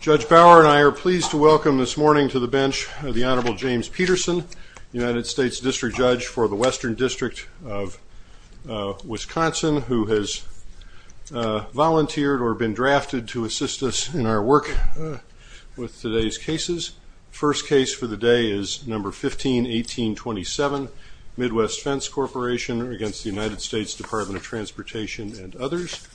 Judge Bauer and I are pleased to welcome this morning to the bench the Honorable James Peterson, United States District Judge for the Western District of Wisconsin, who has volunteered or been drafted to assist us in our work with today's cases. First case for the day is number 151827 Midwest Fence Corporation against the United States Department of Justice.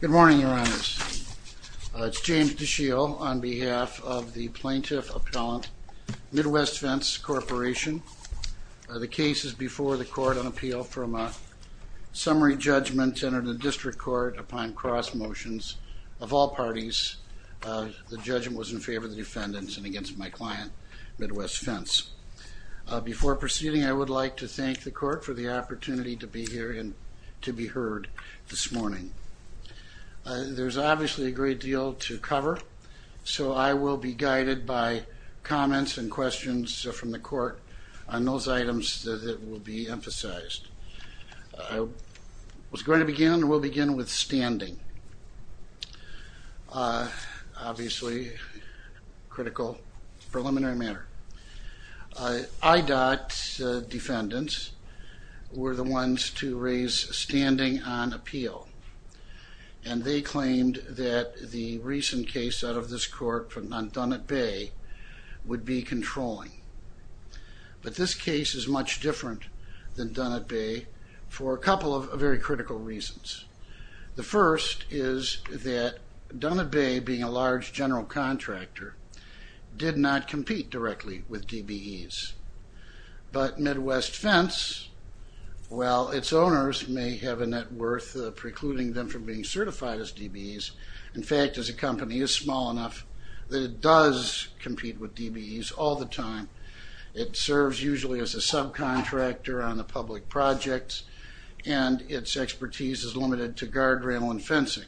Good morning, Your Honors. It's James DeShiel on behalf of the Plaintiff Appellant Midwest Fence Corporation. The case is before the court on appeal from a summary judgment entered in the district court upon cross motions of all parties. The judgment was in favor of the defendants and against my client, Midwest Fence. Before proceeding, I would like to thank the court for the opportunity to be here and to be heard this morning. There's obviously a great deal to cover, so I will be guided by comments and questions from the court on those items that will be emphasized. I was going to begin and will begin with standing. Obviously, critical preliminary matter. IDOT defendants were the ones to raise standing on appeal, and they claimed that the recent case out of this court from Nantunut Bay would be controlling. But this case is much different than Nantunut Bay for a couple of very critical reasons. The first is that Nantunut Bay, being a large general contractor, did not compete directly with DBEs. But Midwest Fence, while its owners may have a net worth precluding them from being certified as DBEs, in fact, as a company, is small enough that it does compete with DBEs all the time. It serves usually as a subcontractor on the public projects, and its expertise is limited to guardrail and fencing.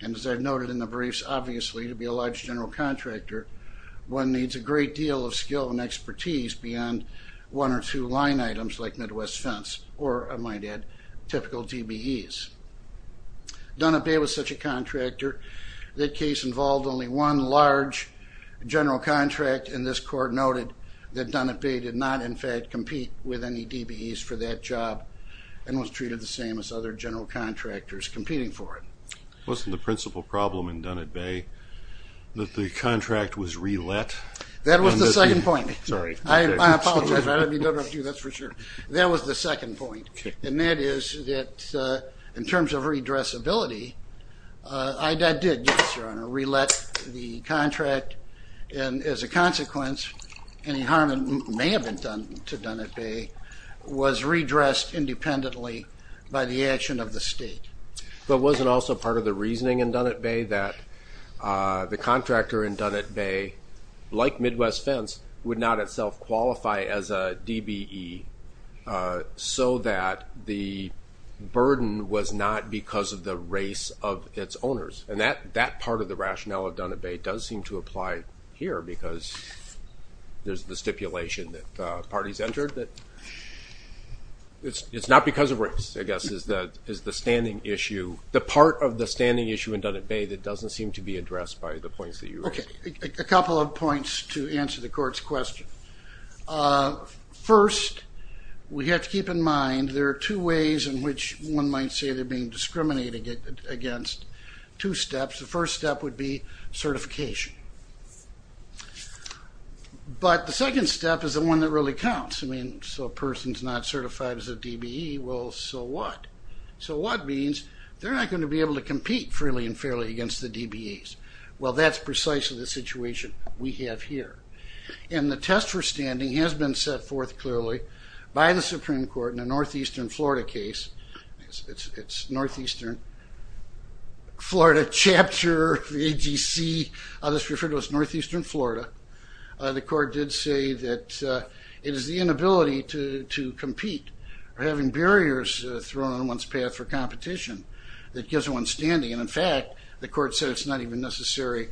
And as I've noted in the briefs, obviously, to be a large general contractor, one needs a great deal of skill and expertise beyond one or two line items like Midwest Fence or, I might add, typical DBEs. Nantunut Bay was such a contractor, that case involved only one large general contract, and this court noted that Nantunut Bay did not, in fact, compete with any DBEs for that job and was treated the same as other general contractors competing for it. Wasn't the principal problem in Nantunut Bay that the contract was re-let? That was the second point. I apologize, I don't know if that's for sure. That was the second point, and that is that in terms of redressability, I did, yes, Your Honor, re-let the contract, and as a consequence, any harm that may have been done to Nantunut Bay was redressed independently by the action of the state. But was it also part of the reasoning in Nantunut Bay that the contractor in Nantunut Bay, like Midwest Fence, would not itself qualify as a DBE so that the burden was not because of the race of its owners? And that part of the rationale of Nantunut Bay does seem to apply here because there's the stipulation that parties entered that it's not because of race, I guess, is the standing issue, the part of the standing issue in Nantunut Bay that doesn't seem to be addressed by the points that you raised. Okay, a couple of points to answer the court's question. First, we have to keep in mind there are two ways in which one might say they're being discriminated against. Two steps. The first step would be certification. But the second step is the one that really counts. I mean, so a person's not certified as a DBE, well, so what? So what means they're not going to be able to compete freely and fairly against the DBEs. Well, that's precisely the situation we have here. And the test for standing has been set forth clearly by the Supreme Court in the Northeastern Florida case. It's Northeastern Florida chapter, the AGC, others refer to it as Northeastern Florida. The court did say that it is the inability to compete or having barriers thrown in one's path for competition that gives one standing. And in fact, the court said it's not even necessary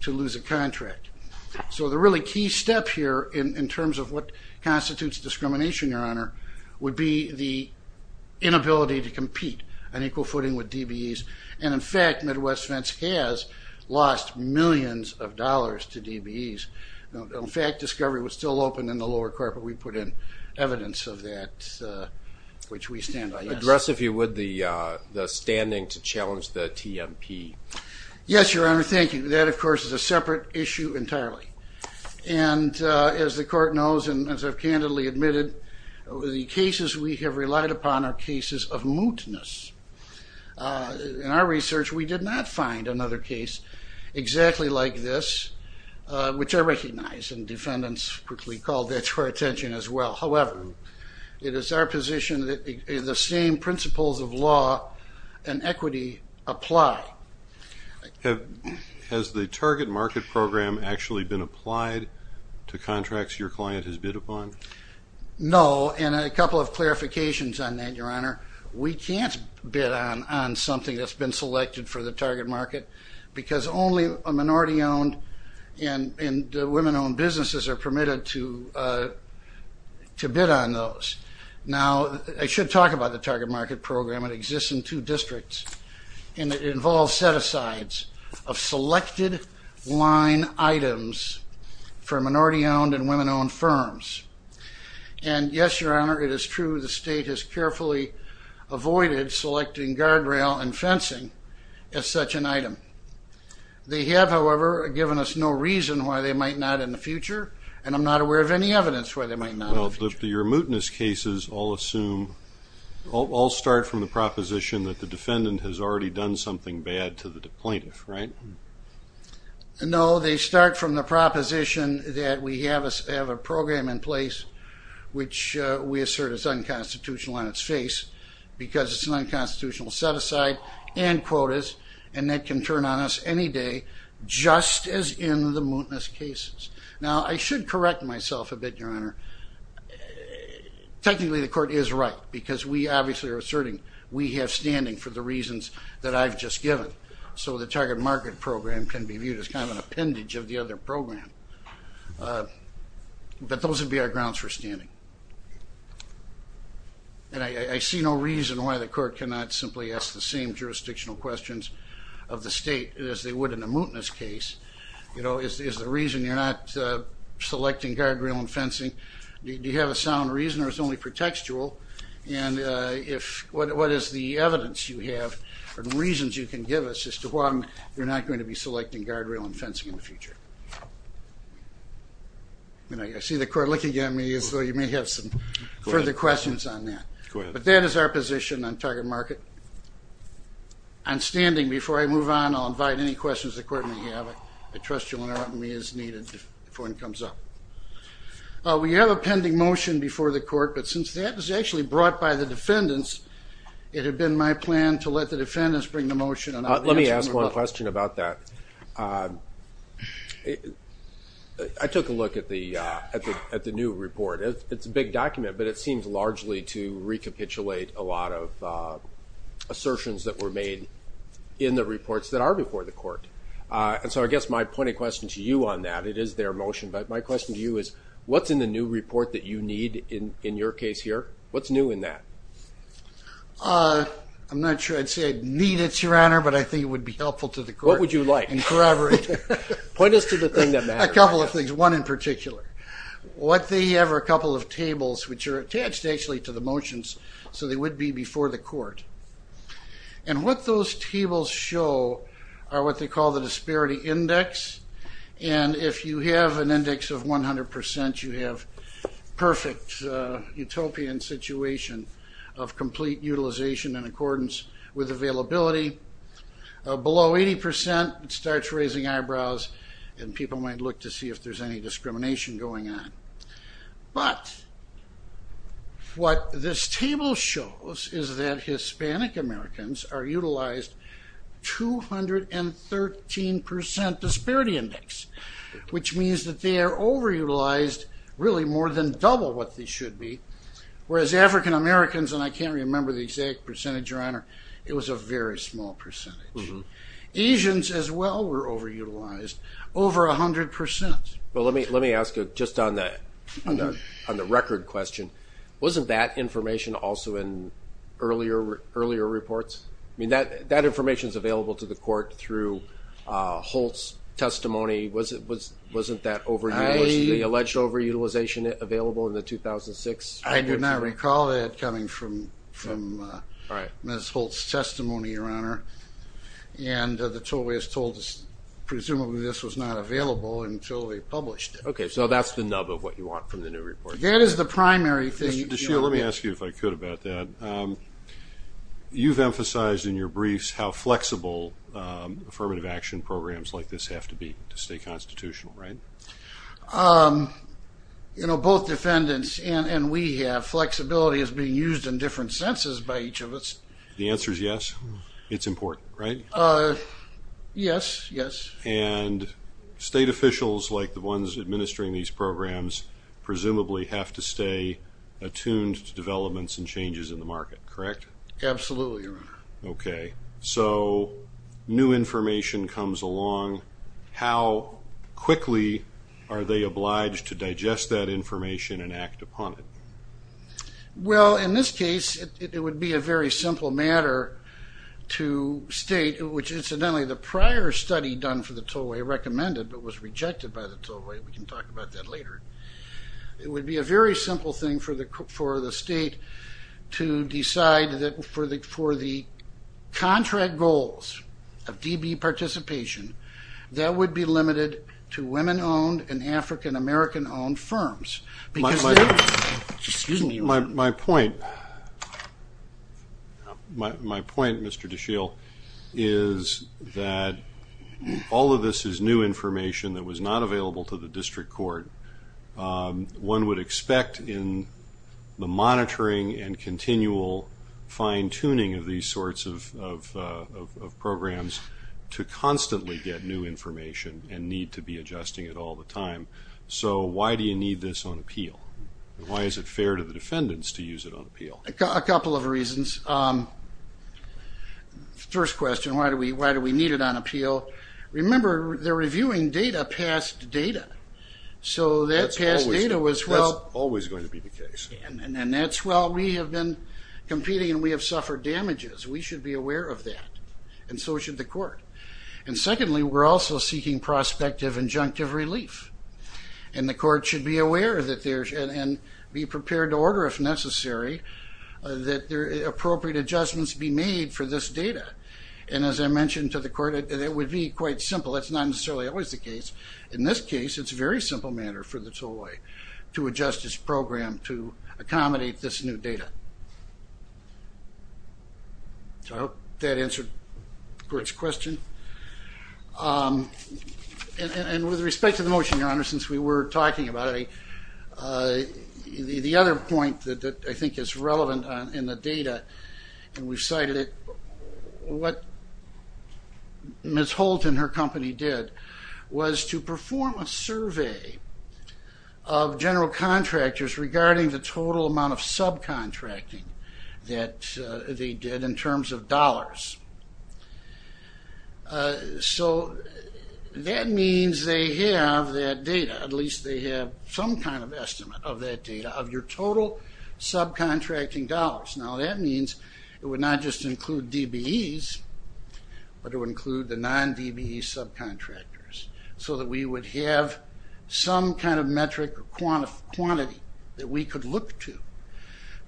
to lose a contract. So the really key step here in terms of what constitutes discrimination, Your Honor, would be the inability to compete on equal footing with DBEs. And in fact, Midwest Fence has lost millions of dollars to DBEs. In fact, discovery was still open in the lower carpet we put in, evidence of that which we stand by. Address, if you would, the standing to challenge the TMP. Yes, Your Honor, thank you. That, of course, is a separate issue entirely. And as the court knows and as I've candidly admitted, the cases we have relied upon are cases of mootness. In our research, we did not find another case exactly like this, which I recognize, and defendants quickly called that to our attention as well. However, it is our position that the same principles of law and equity apply. Has the target market program actually been applied to contracts your client has bid upon? No, and a couple of clarifications on that, Your Honor. We can't bid on something that's been selected for the target market because only a minority-owned and women-owned businesses are permitted to bid on those. Now, I should talk about the target market program. It exists in two districts, and it involves set-asides of selected line items for minority-owned and women-owned firms. And yes, Your Honor, it is true the state has carefully avoided selecting guardrail and fencing as such an item. They have, however, given us no reason why they might not in the future, and I'm not aware of any evidence why they might not. Well, your mootness cases all start from the proposition that the defendant has already done something bad to the plaintiff, right? No, they start from the proposition that we have a program in place which we assert is unconstitutional on its face because it's an unconstitutional set-aside and quotas, and that can turn on us any day, just as in the mootness cases. Now, I should correct myself a bit, Your Honor. Technically, the court is right because we obviously are asserting we have standing for the reasons that I've just given, so the target market program can be viewed as kind of an appendage of the other program. But those would be our grounds for standing. And I see no reason why the court cannot simply ask the same jurisdictional questions of the state as they would in a mootness case. You know, is there a reason you're not selecting guardrail and fencing? Do you have a sound reason, or it's only pretextual? And what is the evidence you have or the reasons you can give us as to why you're not going to be selecting guardrail and fencing in the future? I see the court looking at me, so you may have some further questions on that. Go ahead. But that is our position on target market. I'm standing. Before I move on, I'll invite any questions the court may have. I trust you will answer me as needed before it comes up. We have a pending motion before the court, but since that was actually brought by the defendants, it had been my plan to let the defendants bring the motion. Let me ask one question about that. I took a look at the new report. It's a big document, but it seems largely to recapitulate a lot of assertions that were made in the reports that are before the court. And so I guess my point of question to you on that, it is their motion, but my question to you is what's in the new report that you need in your case here? What's new in that? I'm not sure I'd say I'd need it, Your Honor, but I think it would be helpful to the court. What would you like? In corroboration. Point us to the thing that matters. A couple of things, one in particular. What they have are a couple of tables, which are attached actually to the motions, so they would be before the court. And what those tables show are what they call the disparity index. And if you have an index of 100%, you have perfect utopian situation of complete utilization in accordance with availability. Below 80% starts raising eyebrows, and people might look to see if there's any discrimination going on. But what this table shows is that Hispanic Americans are utilized 213% disparity index, which means that they are overutilized really more than double what they should be, whereas African Americans, and I can't remember the exact percentage, Your Honor, it was a very small percentage. Asians as well were overutilized over 100%. Well, let me ask you just on the record question, wasn't that information also in earlier reports? I mean, that information is available to the court through Holt's testimony. Wasn't that overutilization, the alleged overutilization available in the 2006? I did not recall that coming from Ms. Holt's testimony, Your Honor, and the Tollways told us presumably this was not available until they published it. Okay, so that's the nub of what you want from the new report. That is the primary thing. Let me ask you if I could about that. You've emphasized in your briefs how flexible affirmative action programs like this have to be to stay constitutional, right? You know, both defendants and we have, flexibility is being used in different senses by each of us. The answer is yes. It's important, right? Yes, yes. And state officials like the ones administering these programs presumably have to stay attuned to developments and changes in the market, correct? Absolutely, Your Honor. Okay, so new information comes along. How quickly are they obliged to digest that information and act upon it? Well, in this case, it would be a very simple matter to state, which, incidentally, the prior study done for the Tollway recommended but was rejected by the Tollway. We can talk about that later. It would be a very simple thing for the state to decide that for the contract goals of DB participation, that would be limited to women-owned and African-American-owned firms. My point, Mr. DeShiel, is that all of this is new information that was not available to the district court. One would expect in the monitoring and continual fine-tuning of these sorts of programs to constantly get new information and need to be adjusting it all the time. So why do you need this on appeal? Why is it fair to the defendants to use it on appeal? A couple of reasons. First question, why do we need it on appeal? Remember, they're reviewing data, past data. So that past data was, well, always going to be the case. And that's, well, we have been competing and we have suffered damages. We should be aware of that, and so should the court. And secondly, we're also seeking prospective injunctive relief. And the court should be aware that there's, and be prepared to order if necessary, that appropriate adjustments be made for this data. And as I mentioned to the court, it would be quite simple. That's not necessarily always the case. In this case, it's a very simple matter for the TOI to adjust its program to accommodate this new data. So I hope that answered the court's question. And with respect to the motion, Your Honor, since we were talking about it, the other point that I think is relevant in the data, and we cited it, what Ms. Holt and her company did was to perform a survey of general contractors regarding the total amount of subcontracting that they did in terms of dollars. So that means they have that data, at least they have some kind of estimate of that data, of your total subcontracting dollars. Now, that means it would not just include DBEs, but it would include the non-DBE subcontractors so that we would have some kind of metric or quantity that we could look to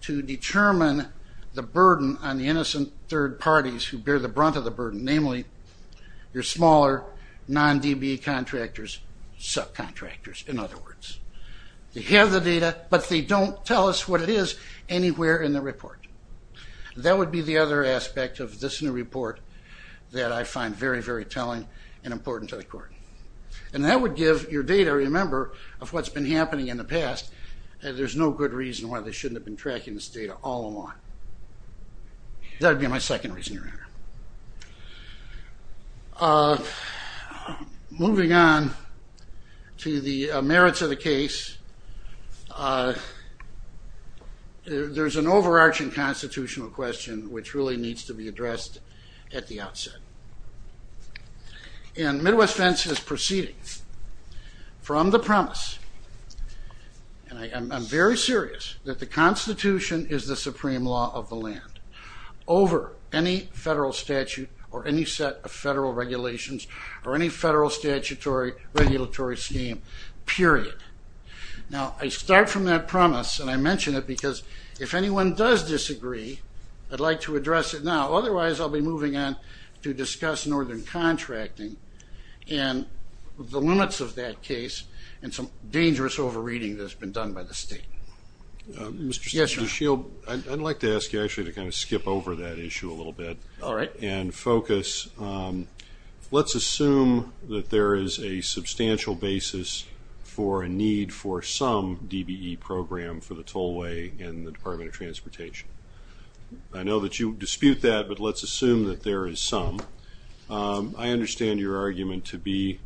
to determine the burden on the innocent third parties who bear the brunt of the burden, namely your smaller non-DBE contractors, subcontractors, in other words. They have the data, but they don't tell us what it is anywhere in the report. That would be the other aspect of this new report that I find very, very telling and important to the court. And that would give your data a remember of what's been happening in the past, and there's no good reason why they shouldn't have been tracking this data all along. That would be my second reason, Your Honor. Moving on to the merits of the case, there's an overarching constitutional question which really needs to be addressed at the outset. And Midwest Fence has proceeded from the promise, and I'm very serious, that the Constitution is the supreme law of the land over any federal statute or any set of federal regulations or any federal statutory regulatory scheme, period. Now, I start from that promise, and I mention it because if anyone does disagree, I'd like to address it now. Otherwise, I'll be moving on to discuss northern contracting and the limits of that case and some dangerous over-reading that's been done by the state. Mr. Shield, I'd like to ask you actually to kind of skip over that issue a little bit and focus. Let's assume that there is a substantial basis for a need for some DBE program for the tollway in the Department of Transportation. I know that you dispute that, but let's assume that there is some. I understand your argument to be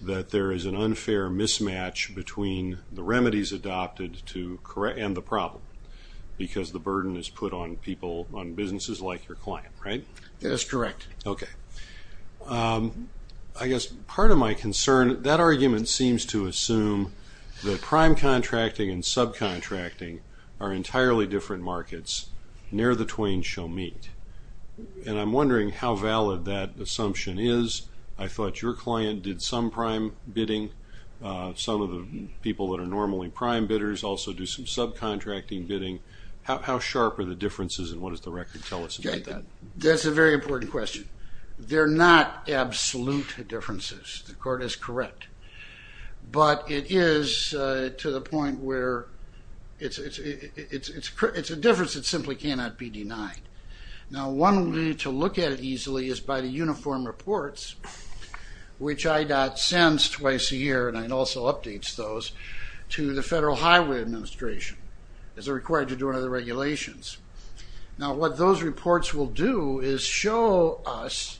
that there is an unfair mismatch between the remedies adopted and the problem because the burden is put on people, on businesses like your client, right? That's correct. Okay. I guess part of my concern, that argument seems to assume that prime contracting and subcontracting are entirely different markets near the twain shall meet. And I'm wondering how valid that assumption is. I thought your client did some prime bidding. Some of the people that are normally prime bidders also do some subcontracting bidding. How sharp are the differences and what does the record tell us about that? That's a very important question. They're not absolute differences. The court is correct. But it is to the point where it's a difference that simply cannot be denied. Now, one way to look at it easily is by the uniform reports, which IDOT sends twice a year, and it also updates those, to the Federal Highway Administration as they're required to do under the regulations. Now, what those reports will do is show us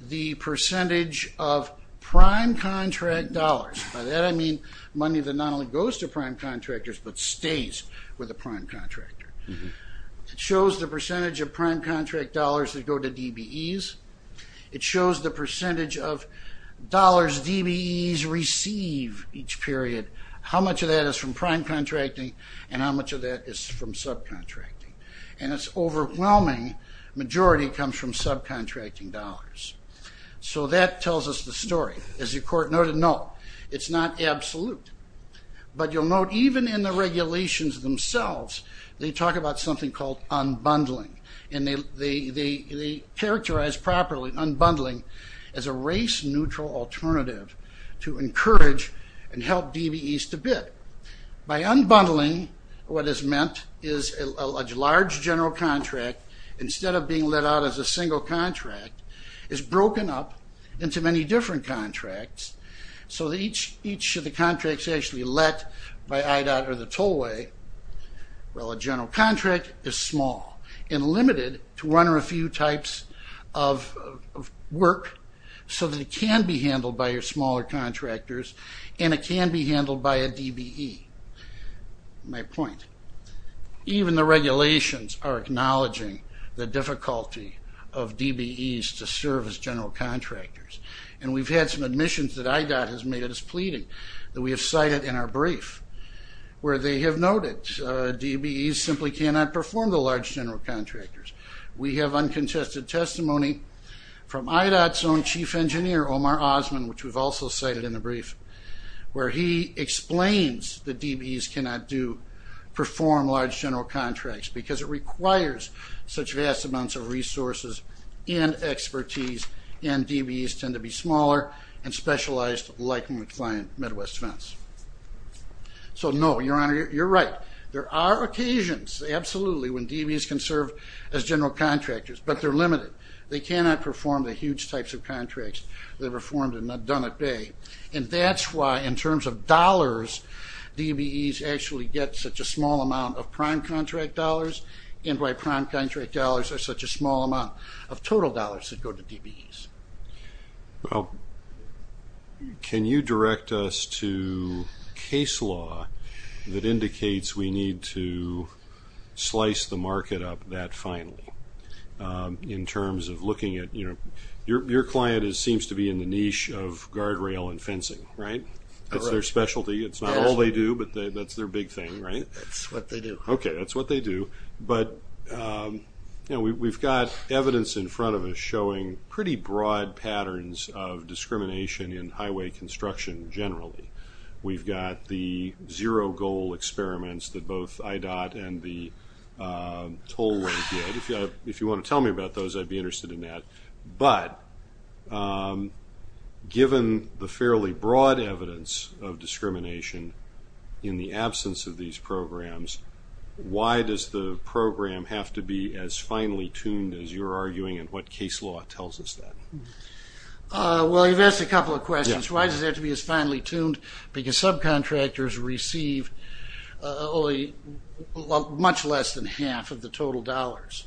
the percentage of prime contract dollars. By that, I mean money that not only goes to prime contractors but stays with the prime contractor. It shows the percentage of prime contract dollars that go to DBEs. It shows the percentage of dollars DBEs receive each period, how much of that is from prime contracting and how much of that is from subcontracting. And its overwhelming majority comes from subcontracting dollars. So that tells us the story. As the court noted, no, it's not absolute. But you'll note even in the regulations themselves, they talk about something called unbundling. And they characterize properly unbundling as a race-neutral alternative to encourage and help DBEs to bid. By unbundling, what is meant is a large general contract, instead of being let out as a single contract, is broken up into many different contracts so that each of the contracts actually let by IDOT or the tollway. Well, a general contract is small and limited to one or a few types of work so that it can be handled by your smaller contractors and it can be handled by a DBE. My point, even the regulations are acknowledging the difficulty of DBEs to serve as general contractors. And we've had some admissions that IDOT has made us pleading that we have cited in our brief where they have noted DBEs simply cannot perform the large general contractors. We have uncontested testimony from IDOT's own chief engineer, Omar Osman, which we've also cited in the brief, where he explains that DBEs cannot perform large general contracts because it requires such vast amounts of resources and expertise, and DBEs tend to be smaller and specialized, likely to find Midwest fence. So, no, Your Honor, you're right. There are occasions, absolutely, when DBEs can serve as general contractors, but they're limited. They cannot perform the huge types of contracts that are performed and done at bay. And that's why, in terms of dollars, DBEs actually get such a small amount of prime contract dollars and why prime contract dollars are such a small amount of total dollars that go to DBEs. Well, can you direct us to a case law that indicates we need to slice the market up that finely in terms of looking at, you know, your client seems to be in the niche of guardrail and fencing, right? That's their specialty. It's not all they do, but that's their big thing, right? That's what they do. Okay, that's what they do. But, you know, we've got evidence in front of us showing pretty broad patterns of discrimination in highway construction generally. We've got the zero goal experiments that both IDOT and the tollway did. If you want to tell me about those, I'd be interested in that. But given the fairly broad evidence of discrimination in the absence of these programs, why does the program have to be as finely tuned as you're arguing and what case law tells us that? Well, you've asked a couple of questions. Why does it have to be as finely tuned? Because subcontractors receive only much less than half of the total dollars,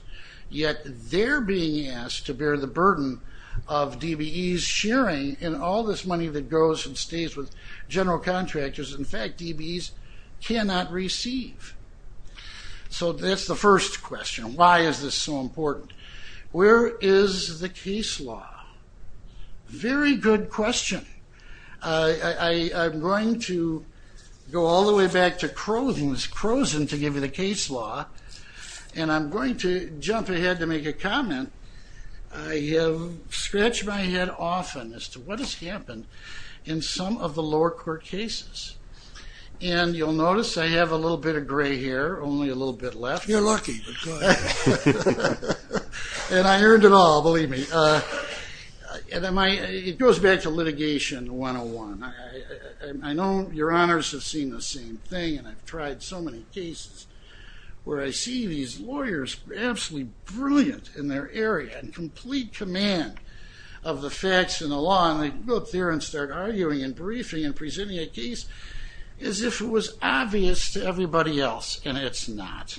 yet they're being asked to bear the burden of DBEs sharing, and all this money that goes and stays with general contractors, in fact, DBEs cannot receive. So that's the first question. Why is this so important? Where is the case law? Very good question. I'm going to go all the way back to Crowson to give you the case law, and I'm going to jump ahead to make a comment. I have scratched my head often as to what has happened in some of the lower court cases, and you'll notice I have a little bit of gray hair, only a little bit left. You're lucky. And I earned it all, believe me. It goes back to litigation 101. I know your honors have seen the same thing, and I've tried so many cases, where I see these lawyers absolutely brilliant in their area, and complete command of the facts and the law, and I look there and start arguing and briefing and presenting a case as if it was obvious to everybody else, and it's not.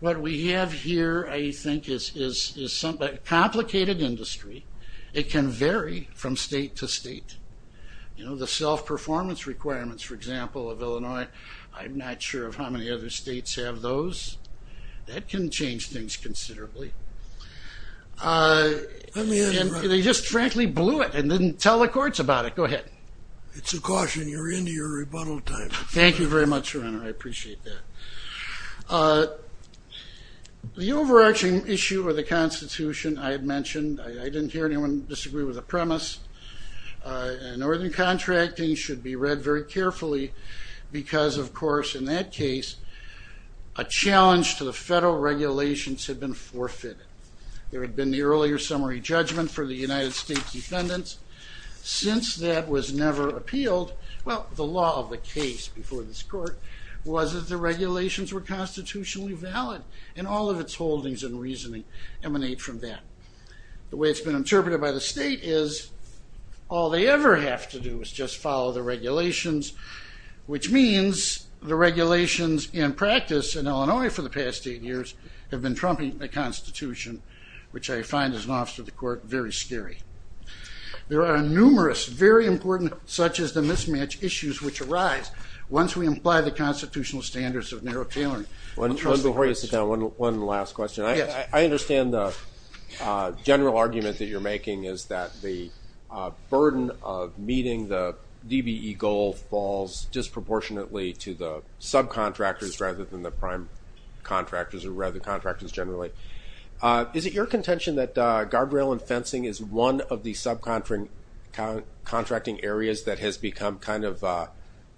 What we have here, I think, is complicated industry. It can vary from state to state. You know, the self-performance requirements, for example, of Illinois, I'm not sure how many other states have those. That can change things considerably. They just frankly blew it and didn't tell the courts about it. Go ahead. It's a caution. You're into your rebuttal time. Thank you very much, Your Honor. I appreciate that. The overarching issue of the Constitution I had mentioned, I didn't hear anyone disagree with the premise, and Northern Contracting should be read very carefully, because, of course, in that case, a challenge to the federal regulations had been forfeited. There had been the earlier summary judgment for the United States defendants. Since that was never appealed, well, the law of the case before this court was that the regulations were constitutionally valid, and all of its holdings and reasoning emanate from that. The way it's been interpreted by the state is all they ever have to do is just follow the regulations, which means the regulations in practice in Illinois for the past eight years have been trumping the Constitution, which I find as an officer of the court very scary. There are numerous very important, such as the mismatch issues, which arise once we imply the constitutional standards of narrow tailoring. One last question. I understand the general argument that you're making is that the burden of meeting the DBE goal falls disproportionately to the subcontractors rather than the prime contractors or rather contractors generally. Is it your contention that guardrail and fencing is one of the subcontracting areas that has become kind of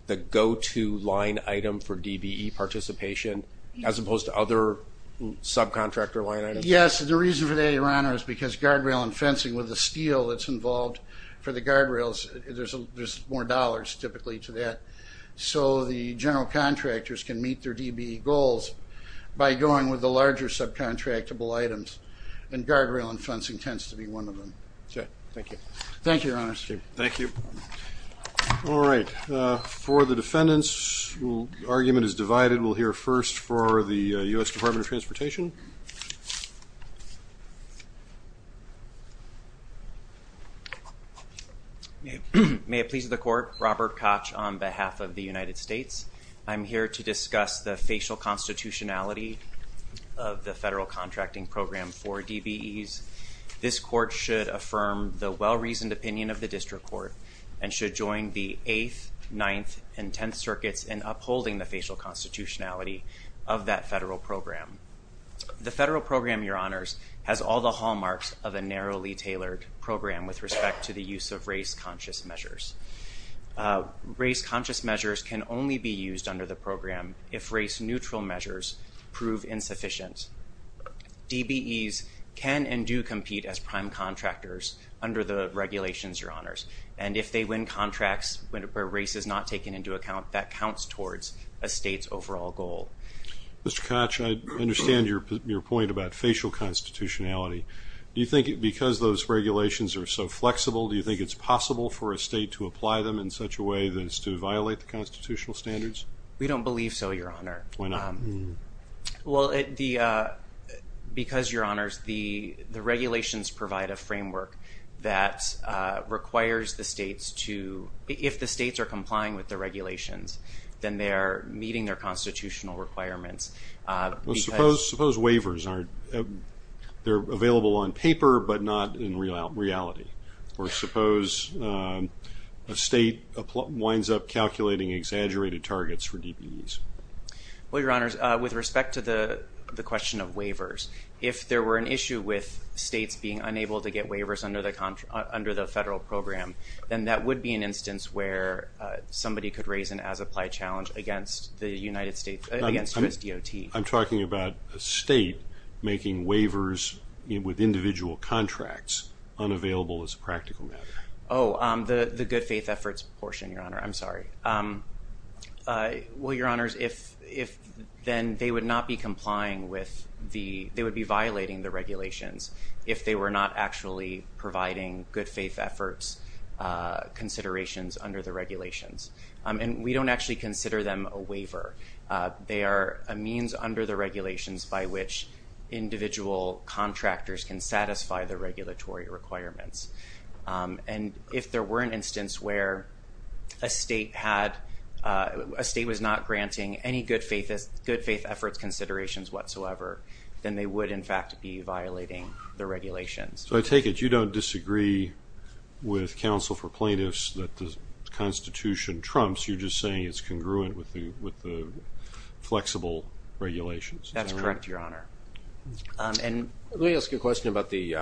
the go-to line item for DBE participation as opposed to other subcontractor line items? Yes. The reason for that, Your Honor, is because guardrail and fencing with the steel that's involved for the guardrails, there's more dollars typically to that. So the general contractors can meet their DBE goals by going with the larger subcontractable items, and guardrail and fencing tends to be one of them. Thank you. Thank you, Your Honor. Thank you. All right. For the defendants, the argument is divided. We'll hear first for the U.S. Department of Transportation. May it please the court, Robert Koch on behalf of the United States. I'm here to discuss the facial constitutionality of the federal contracting program for DBEs. This court should affirm the well-reasoned opinion of the district court and should join the 8th, 9th, and 10th circuits in upholding the facial constitutionality of that federal program. The federal program, Your Honors, has all the hallmarks of a narrowly tailored program with respect to the use of race-conscious measures. Race-conscious measures can only be used under the program if race-neutral measures prove insufficient. DBEs can and do compete as prime contractors under the regulations, Your Honors, and if they win contracts where race is not taken into account, that counts towards a state's overall goal. Mr. Koch, I understand your point about facial constitutionality. Do you think because those regulations are so flexible, do you think it's possible for a state to apply them in such a way as to violate the constitutional standards? We don't believe so, Your Honor. Why not? Well, because, Your Honors, the regulations provide a framework that requires the states to, if the states are complying with the regulations, then they're meeting their constitutional requirements. Well, suppose waivers aren't. They're available on paper but not in reality. Or suppose a state winds up calculating exaggerated targets for DBEs. Well, Your Honors, with respect to the question of waivers, if there were an issue with states being unable to get waivers under the federal program, then that would be an instance where somebody could raise an as-applied challenge against the United States DOT. I'm talking about a state making waivers with individual contracts unavailable as a practical matter. Oh, the good faith efforts portion, Your Honor. I'm sorry. Well, Your Honors, then they would not be complying with the, they would be violating the regulations if they were not actually providing good faith efforts considerations under the regulations. And we don't actually consider them a waiver. They are a means under the regulations by which individual contractors can satisfy the regulatory requirements. And if there were an instance where a state had, a state was not granting any good faith efforts considerations whatsoever, then they would, in fact, be violating the regulations. So I take it you don't disagree with counsel for plaintiffs that the Constitution trumps. You're just saying it's congruent with the flexible regulations. That's correct, Your Honor. Let me ask a question about the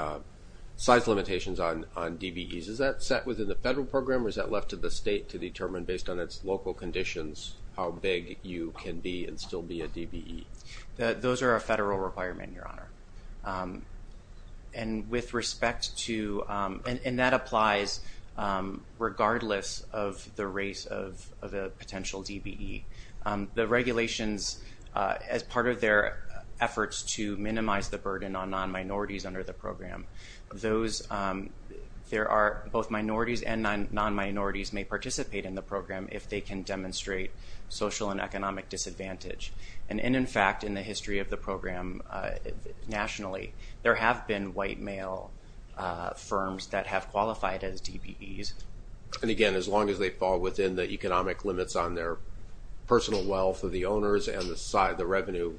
size limitations on DBEs. Is that set within the federal program or is that left to the state to determine based on its local conditions how big you can be and still be a DBE? Those are a federal requirement, Your Honor. And with respect to, and that applies regardless of the race of the potential DBE. The regulations as part of their efforts to minimize the burden on non-minorities under the program, there are both minorities and non-minorities may participate in the program if they can demonstrate social and economic disadvantage. And in fact, in the history of the program nationally, there have been white male firms that have qualified as DBEs. And again, as long as they fall within the economic limits on their personal wealth of the owners and the side of the revenue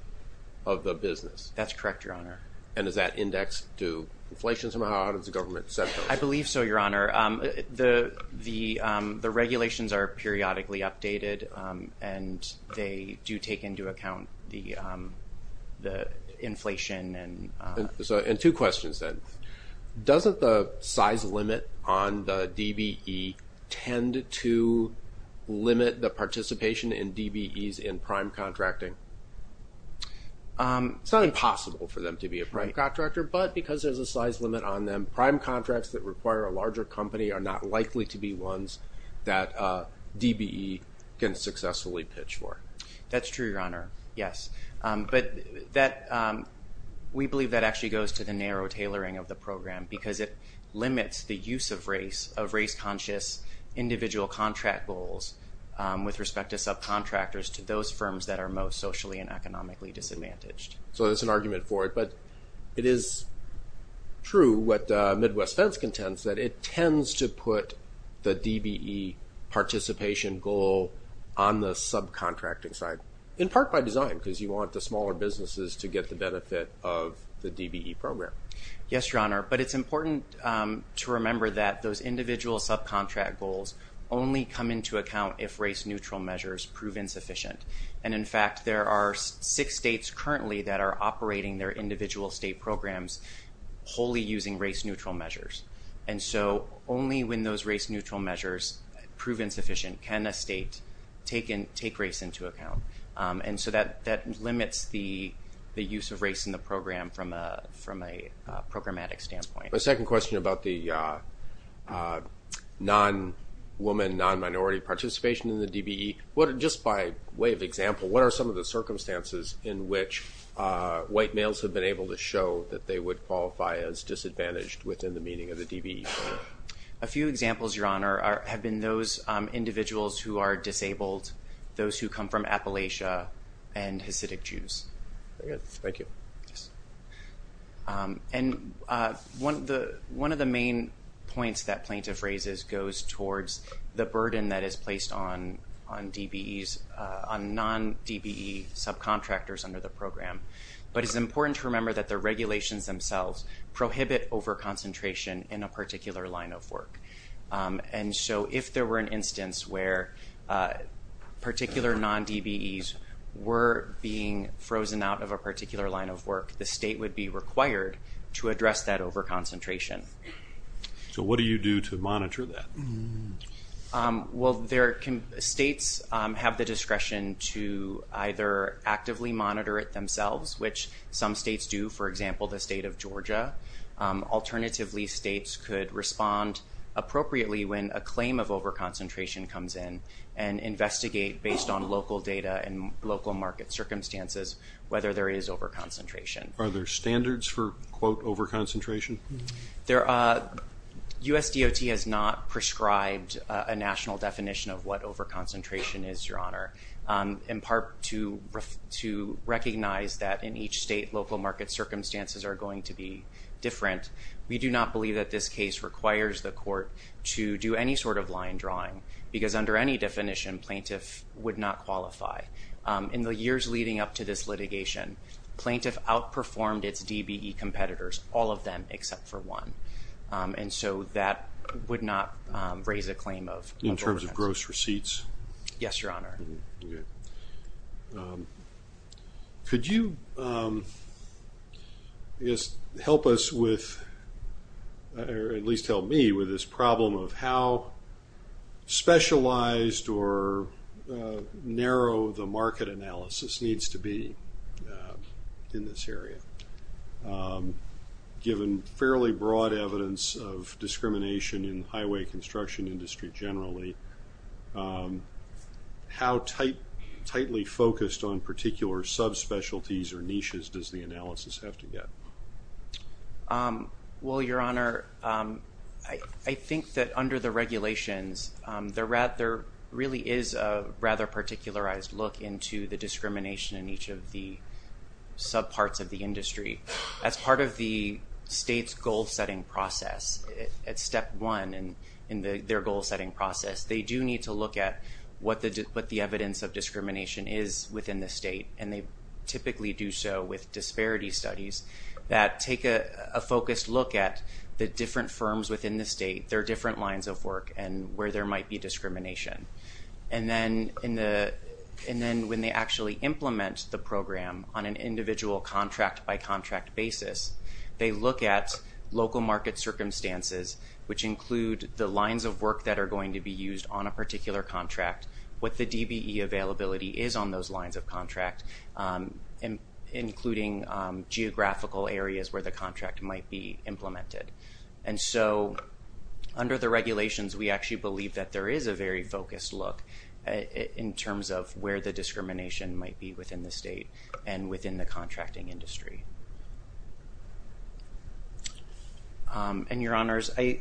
of the business. That's correct, Your Honor. And is that indexed to inflation somehow out of the government sector? I believe so, Your Honor. The regulations are periodically updated and they do take into account the inflation. And two questions then. Doesn't the size limit on the DBE tend to limit the participation in DBEs in prime contracting? It's not impossible for them to be a prime contractor, but because there's a size limit on them, prime contracts that require a larger company are not likely to be ones that DBE can successfully pitch for. That's true, Your Honor. Yes. But we believe that actually goes to the narrow tailoring of the program because it limits the use of race, of race conscious individual contract goals with respect to subcontractors to those firms that are most socially and economically disadvantaged. So it's an argument for it, but it is true what Midwest Fence contends that it tends to put the DBE participation goal on the subcontracting side. In part by design because you want the smaller businesses to get the benefit of the DBE program. Yes, Your Honor. But it's important to remember that those individual subcontract goals only come into account if race neutral measures prove insufficient. And, in fact, there are six states currently that are operating their individual state programs wholly using race neutral measures. And so only when those race neutral measures prove insufficient can a state take race into account. And so that limits the use of race in the program from a programmatic standpoint. My second question about the non-woman, non-minority participation in the DBE, just by way of example, what are some of the circumstances in which white males have been able to show that they would qualify as disadvantaged within the meaning of the DBE program? A few examples, Your Honor, have been those individuals who are disabled, those who come from Appalachia, and Hasidic Jews. Very good. Thank you. And one of the main points that plaintiff raises goes towards the burden that is placed on DBEs, on non-DBE subcontractors under the program. But it's important to remember that the regulations themselves prohibit overconcentration in a particular line of work. And so if there were an instance where particular non-DBEs were being frozen out of a particular line of work, the state would be required to address that overconcentration. So what do you do to monitor that? Well, states have the discretion to either actively monitor it themselves, which some states do, for example, the state of Georgia. Alternatively, states could respond appropriately when a claim of overconcentration comes in and investigate, based on local data and local market circumstances, whether there is overconcentration. Are there standards for, quote, overconcentration? There are. USDOT has not prescribed a national definition of what overconcentration is, Your Honor, in part to recognize that in each state, local market circumstances are going to be different. We do not believe that this case requires the court to do any sort of line drawing, because under any definition, plaintiff would not qualify. In the years leading up to this litigation, plaintiff outperformed its DBE competitors, all of them except for one. And so that would not raise a claim of overconcentration. In terms of gross receipts? Yes, Your Honor. Could you help us with, or at least help me with this problem of how specialized or narrow the market analysis needs to be in this area? Given fairly broad evidence of discrimination in highway construction industry generally, how tightly focused on particular subspecialties or niches does the analysis have to get? Well, Your Honor, I think that under the regulations, there really is a rather particularized look into the discrimination in each of the subparts of the industry. As part of the state's goal-setting process, at step one in their goal-setting process, they do need to look at what the evidence of discrimination is within the state. And they typically do so with disparity studies that take a focused look at the different firms within the state, their different lines of work and where there might be discrimination. And then when they actually implement the program on an individual contract-by-contract basis, they look at local market circumstances, which include the lines of work that are going to be used on a particular contract, what the DBE availability is on those lines of contracts, including geographical areas where the contract might be implemented. And so under the regulations, we actually believe that there is a very focused look in terms of where the discrimination might be within the state and within the contracting industry. And your honors, I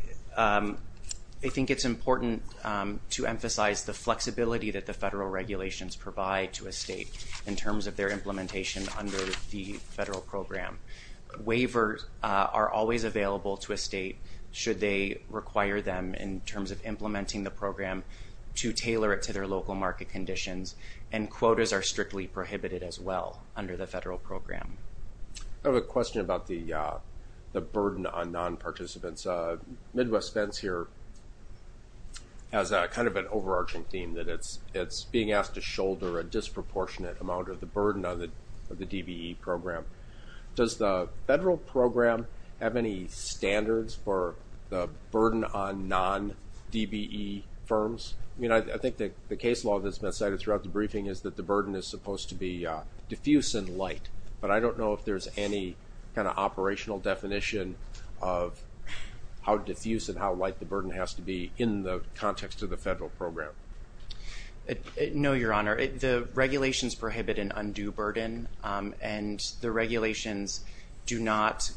think it's important to emphasize the flexibility that the federal regulations provide to a state in terms of their implementation under the federal program. Waivers are always available to a state should they require them in terms of implementing the program to tailor it to their local market conditions and quotas are strictly prohibited as well under the federal program. I have a question about the burden on non-participants. Midwest Spence here has kind of an overarching theme that it's being asked to shoulder a disproportionate amount of the burden of the DBE program. Does the federal program have any standards for the burden on non-DBE firms? I think the case law that's been cited throughout the briefing is that the burden is supposed to be diffuse and light, but I don't know if there's any kind of operational definition of how diffuse and how light the burden has to be in the context of the federal program. No, your honor, the regulations prohibit an undue burden, and the regulations do not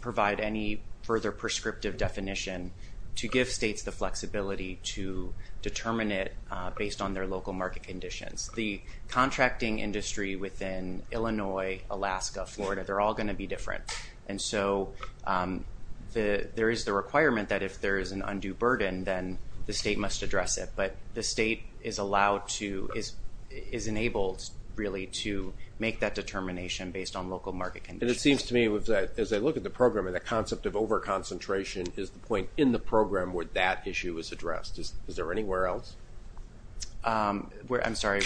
provide any further prescriptive definition to give states the flexibility to determine it based on their local market conditions. The contracting industry within Illinois, Alaska, Florida, they're all going to be different. And so there is the requirement that if there is an undue burden, then the state must address it. But the state is allowed to, is enabled really to make that determination based on local market conditions. And it seems to me that as I look at the program and the concept of over-concentration, that that issue is addressed. Is there anywhere else? I'm sorry.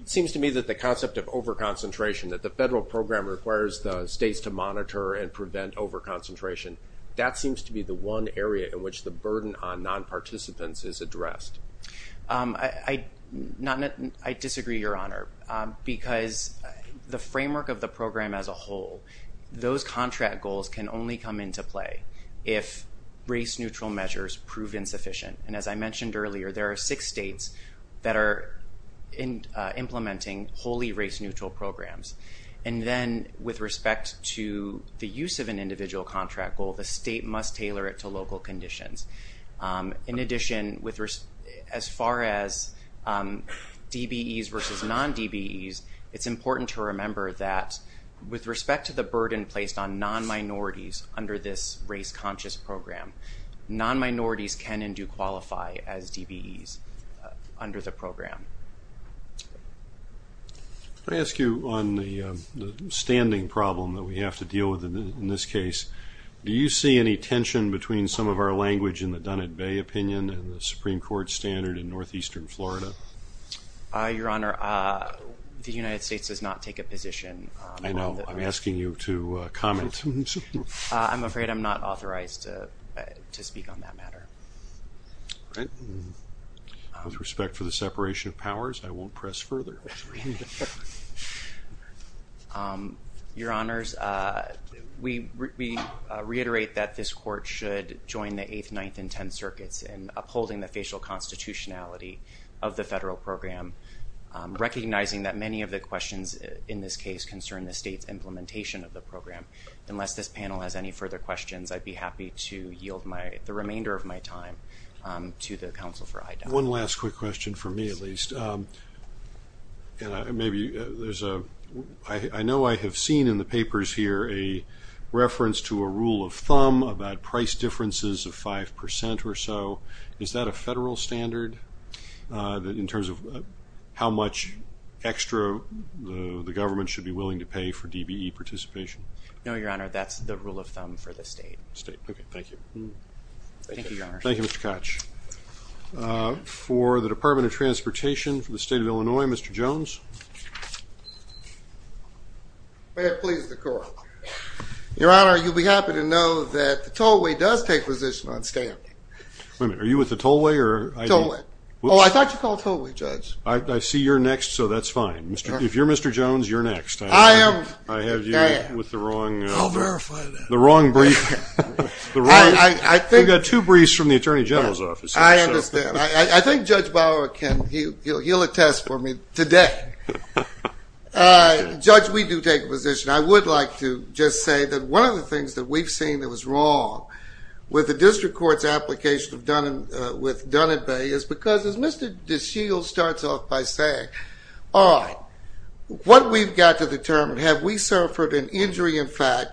It seems to me that the concept of over-concentration, that the federal program requires the states to monitor and prevent over-concentration, that seems to be the one area in which the burden on non-participants is addressed. I disagree, your honor, because the framework of the program as a whole, those contract goals can only come into play if race-neutral measures prove insufficient. And as I mentioned earlier, there are six states that are implementing wholly race-neutral programs. And then with respect to the use of an individual contract goal, the state must tailor it to local conditions. In addition, as far as DBEs versus non-DBEs, it's important to remember that with respect to the burden placed on non-minorities under this race-conscious program, non-minorities can and do qualify as DBEs under the program. Can I ask you on the standing problem that we have to deal with in this case, do you see any tension between some of our language in the Dunnett Bay opinion and the Supreme Court standard in northeastern Florida? Your honor, the United States does not take a position on that. I'm asking you to comment. I'm afraid I'm not authorized to speak on that matter. Okay. With respect to the separation of powers, I won't press further. Your honors, we reiterate that this court should join the eighth, ninth, and 10 circuits in upholding the facial constitutionality of the federal program. Recognizing that many of the questions in this case concern the state implementation of the program. Unless this panel has any further questions, I'd be happy to yield the remainder of my time to the counsel for identity. One last quick question for me, at least. I know I have seen in the papers here a reference to a rule of thumb about price differences of 5% or so. Is that a federal standard in terms of how much extra the government should be willing to pay for DBE participation? No, your honor. That's the rule of thumb for the state. Okay. Thank you. Thank you, Mr. Koch. For the department of transportation for the state of Illinois. Mr. Jones. Your honor, you'd be happy to know that the tollway does take position on standing. Are you with the tollway? Oh, I thought you called tollway, judge. I see you're next. So that's fine. If you're Mr. Jones, you're next. I have you with the wrong brief. We've got two briefs from the attorney general's office. I understand. I think judge Bauer, he'll attest for me today. Judge, we do take a position. I would like to just say that one of the things that we've seen that was wrong with the district court's application with Dun & Bay is because, as Mr. DeShields starts off by saying, all right, what we've got to determine. Have we suffered an injury in fact?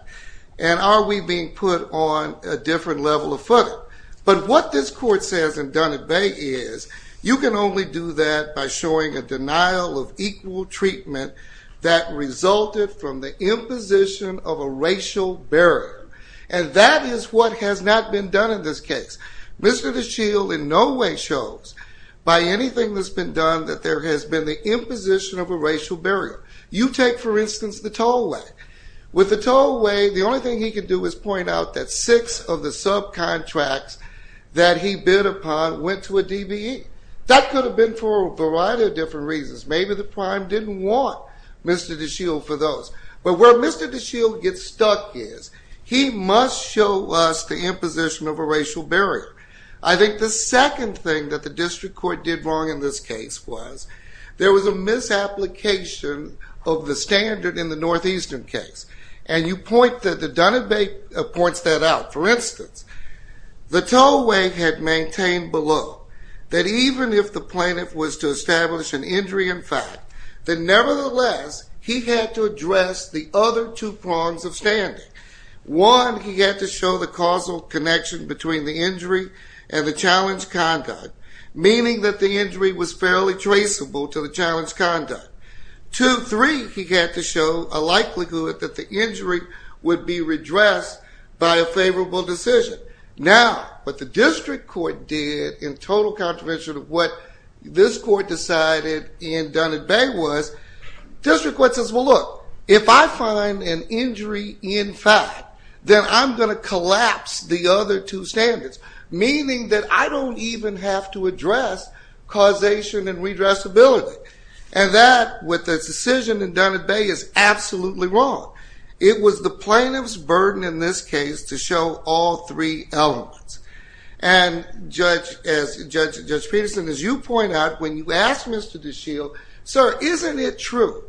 And are we being put on a different level of footing? But what this court says in Dun & Bay is you can only do that by showing a denial of equal treatment that resulted from the imposition of a racial barrier. And that is what has not been done in this case. Mr. DeShields in no way shows by anything that's been done that there has been the imposition of a racial barrier. You take, for instance, the tollway. With the tollway, the only thing he can do is point out that six of the subcontracts that he bid upon went to a DBE. That could have been for a variety of different reasons. Maybe the crime didn't want Mr. DeShields for those. But where Mr. DeShields gets stuck is he must show us the imposition of a racial barrier. I think the second thing that the district court did wrong in this case was there was a misapplication of the standard in the Northeastern case. And you point that the Dun & Bay points that out. For instance, the tollway had maintained below that even if the plaintiff was to establish an injury in fact, that nevertheless he had to address the other two prongs of standard. One, he had to show the causal connection between the injury and the challenged conduct, meaning that the injury was fairly traceable to the challenged conduct. Two, three, he had to show a likelihood that the injury would be redressed by a favorable decision. Now, what the district court did in total contravention of what this court decided in Dun & Bay was district court says, well, look, if I find an injury in fact, then I'm going to collapse the other two standards, meaning that I don't even have to address causation and redressability. And that with the decision in Dun & Bay is absolutely wrong. It was the plaintiff's burden in this case to show all three elements. And Judge Peterson, as you point out, when you asked Mr. DeShield, sir, isn't it true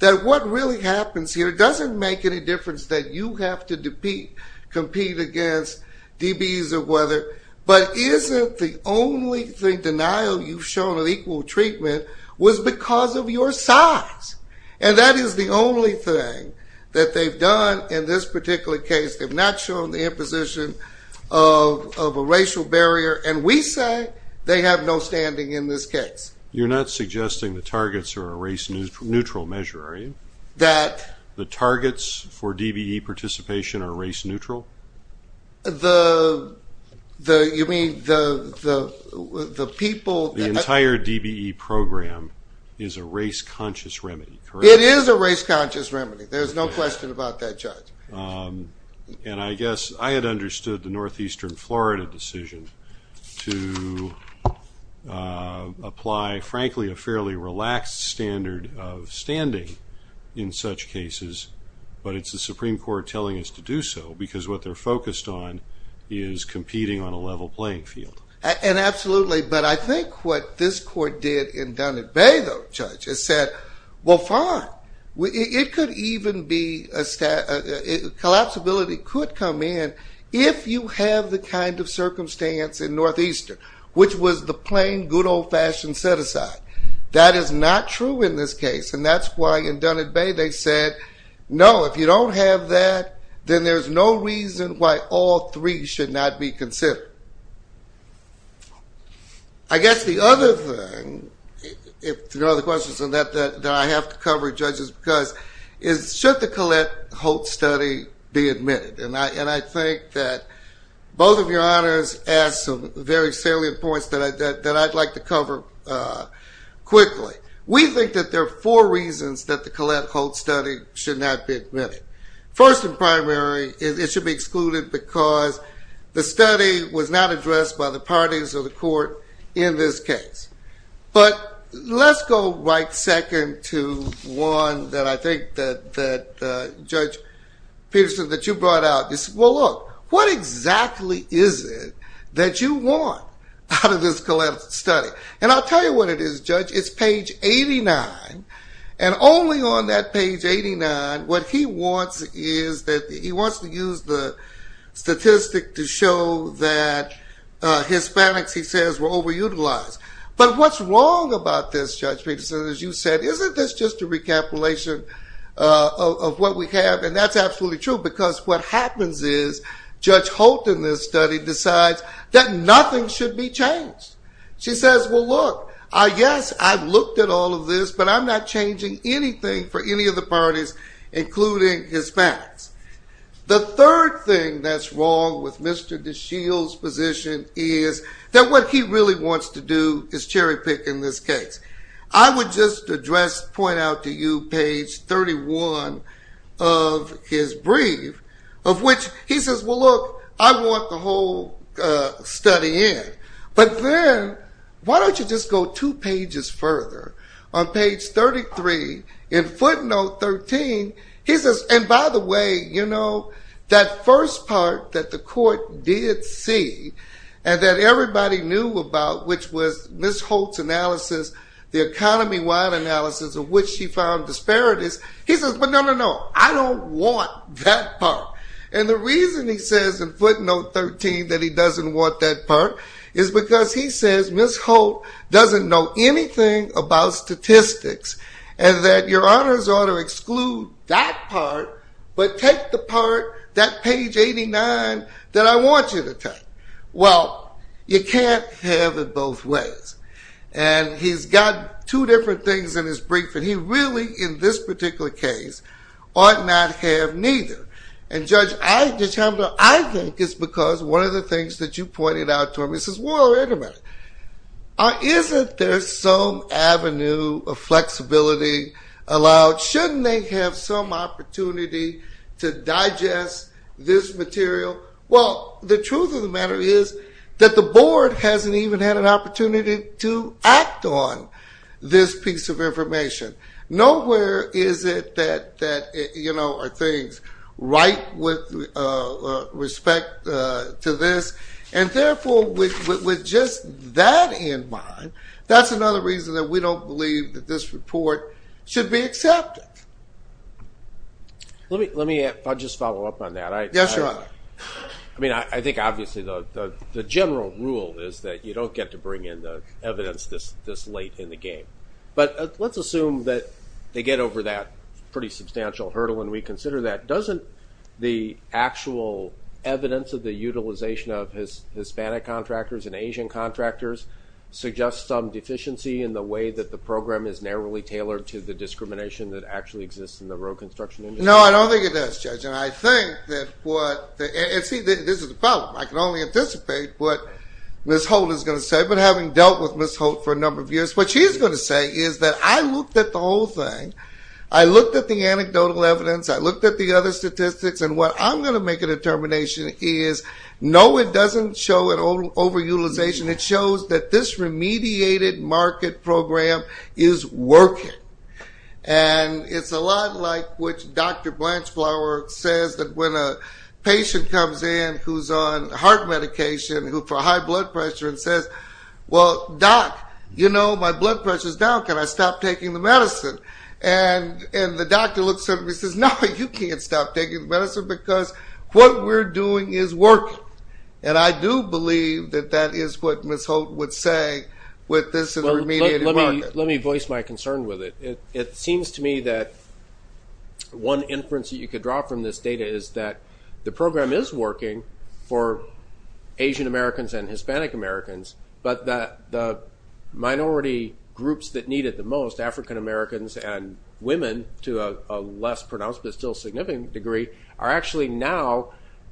that what really happens here doesn't make any difference that you have to compete against DBs or whether, but isn't the only thing, denial you've shown of equal treatment was because of your size. And that is the only thing that they've done in this particular case. They've not shown the imposition of a racial barrier. And we say they have no standing in this case. You're not suggesting the targets are a race neutral measure, are you? That. The targets for DBE participation are race neutral? The, you mean, the people. The entire DBE program is a race conscious remedy. It is a race conscious remedy. There's no question about that, Judge. And I guess I had understood the Northeastern Florida decision to apply, frankly, a fairly relaxed standard of standing in such cases. But it's the Supreme Court telling us to do so because what they're focused on is competing on a level playing field. And absolutely. But I think what this court did in Dunnett Bay, though, Judge, is said, well, fine. It could even be a, collapsibility could come in if you have the kind of circumstance in Northeastern, which was the plain good old fashioned set aside. That is not true in this case. And that's why in Dunnett Bay they said, no, if you don't have that, then there's no reason why all three should not be considered. I guess the other thing, if there are other questions on that, that I have to cover, Judge, is should the Colette-Holtz study be admitted? And I think that both of your honors asked some very salient points that I'd like to cover quickly. We think that there are four reasons that the Colette-Holtz study should not be admitted. First and primary is it should be excluded because the study was not addressed by the parties of the court in this case. But let's go right second to one that I think that Judge Peterson, that you brought out. Well, look, what exactly is it that you want out of this Colette-Holtz study? And I'll tell you what it is, Judge. It's page 89. And only on that page 89 what he wants is that he wants to use the statistic to show that Hispanics, he says, were overutilized. But what's wrong about this, Judge Peterson, as you said, isn't this just a recapitulation of what we have? And that's absolutely true because what happens is Judge Holtz in this study decides that nothing should be changed. She says, well, look, yes, I've looked at all of this, but I'm not changing anything for any of the parties, including Hispanics. The third thing that's wrong with Mr. DeShield's position is that what he really wants to do is cherry pick in this case. I would just address, point out to you page 31 of his brief, of which he says, well, look, I want the whole study in. But then why don't you just go two pages further? On page 33, in footnote 13, he says, and by the way, you know, that first part that the court did see and that everybody knew about, which was Ms. Holtz' analysis, the economy-wide analysis of which she found disparities, he says, but no, no, no, I don't want that part. And the reason he says in footnote 13 that he doesn't want that part is because he says Ms. Holtz doesn't know anything about statistics, and that your honors ought to exclude that part but take the part, that page 89 that I want you to take. Well, you can't have it both ways. And he's got two different things in his brief, and he really, in this particular case, ought not to have neither. And, Judge, I think it's because one of the things that you pointed out to me is, well, anyway, isn't there some avenue of flexibility allowed? Shouldn't they have some opportunity to digest this material? Well, the truth of the matter is that the board hasn't even had an opportunity to act on this piece of information. Nowhere is it that, you know, are things right with respect to this, and therefore with just that in mind, that's another reason that we don't believe that this report should be accepted. Let me just follow up on that. Yes, Your Honor. I mean, I think obviously the general rule is that you don't get to bring in the evidence this late in the game. But let's assume that they get over that pretty substantial hurdle, and we consider that. But doesn't the actual evidence of the utilization of Hispanic contractors and Asian contractors suggest some deficiency in the way that the program is narrowly tailored to the discrimination that actually exists in the road construction industry? No, I don't think it does, Judge. And I think that what the – and see, this is the problem. I can only anticipate what Ms. Holt is going to say, but having dealt with Ms. Holt for a number of years, what she's going to say is that I looked at the whole thing. I looked at the anecdotal evidence. I looked at the other statistics. And what I'm going to make a determination is, no, it doesn't show an overutilization. It shows that this remediated market program is working. And it's a lot like what Dr. Blanchflower says that when a patient comes in who's on heart medication for high blood pressure and says, well, doc, you know my blood pressure is down. Can I stop taking the medicine? And the doctor looks at him and says, no, you can't stop taking the medicine because what we're doing is working. And I do believe that that is what Ms. Holt would say with this remediated market. Let me voice my concern with it. It seems to me that one inference that you could draw from this data is that the program is working for Asian Americans and Hispanic Americans, but that the minority groups that need it the most, African Americans and women, to a less pronounced but still significant degree, are actually now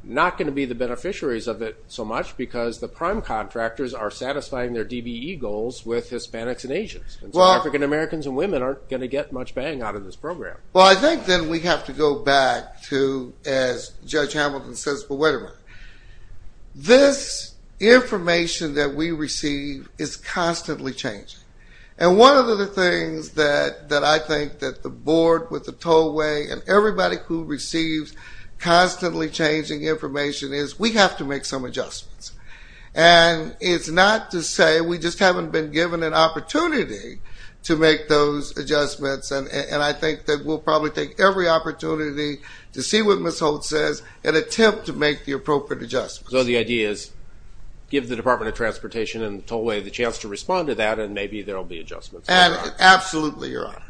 not going to be the beneficiaries of it so much because the prime contractors are satisfying their DBE goals with Hispanics and Asians. So African Americans and women aren't going to get much bang out of this program. Well, I think that we have to go back to, as Judge Hamilton says, this information that we receive is constantly changing. And one of the things that I think that the board with the tollway and everybody who receives constantly changing information is we have to make some adjustments. And it's not to say we just haven't been given an opportunity to make those adjustments, and I think that we'll probably take every opportunity to see what Ms. Hamilton has to say to make the appropriate adjustments. So the idea is give the Department of Transportation and the tollway the chance to respond to that and maybe there will be adjustments. Absolutely, Your Honor.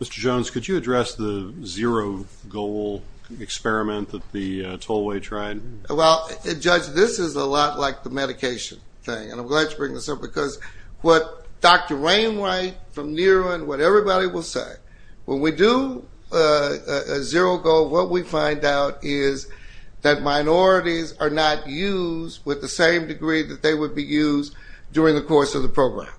Mr. Jones, could you address the zero goal experiment that the tollway tried? Well, Judge, this is a lot like the medication thing. And I'm glad you bring this up because what Dr. Rainway from New England, what everybody will say, when we do a zero goal, what we find out is that minorities are not used with the same degree that they would be used during the course of the program.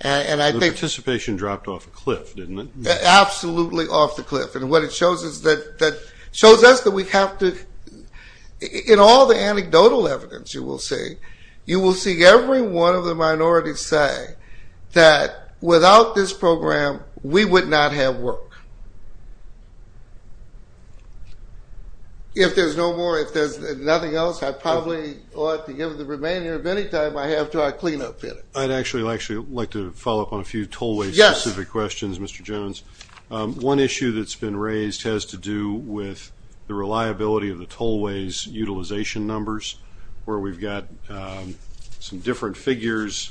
And I think the participation dropped off a cliff, didn't it? Absolutely off the cliff. And what it shows us that we have to, in all the anecdotal evidence you will see, you will see every one of the minorities say that without this program we would not have worked. If there's no more, if there's nothing else, I probably ought to give the remainder of any time I have until I clean up here. I'd actually like to follow up on a few tollway-specific questions, Mr. Jones. One issue that's been raised has to do with the reliability of the tollway's utilization numbers where we've got some different figures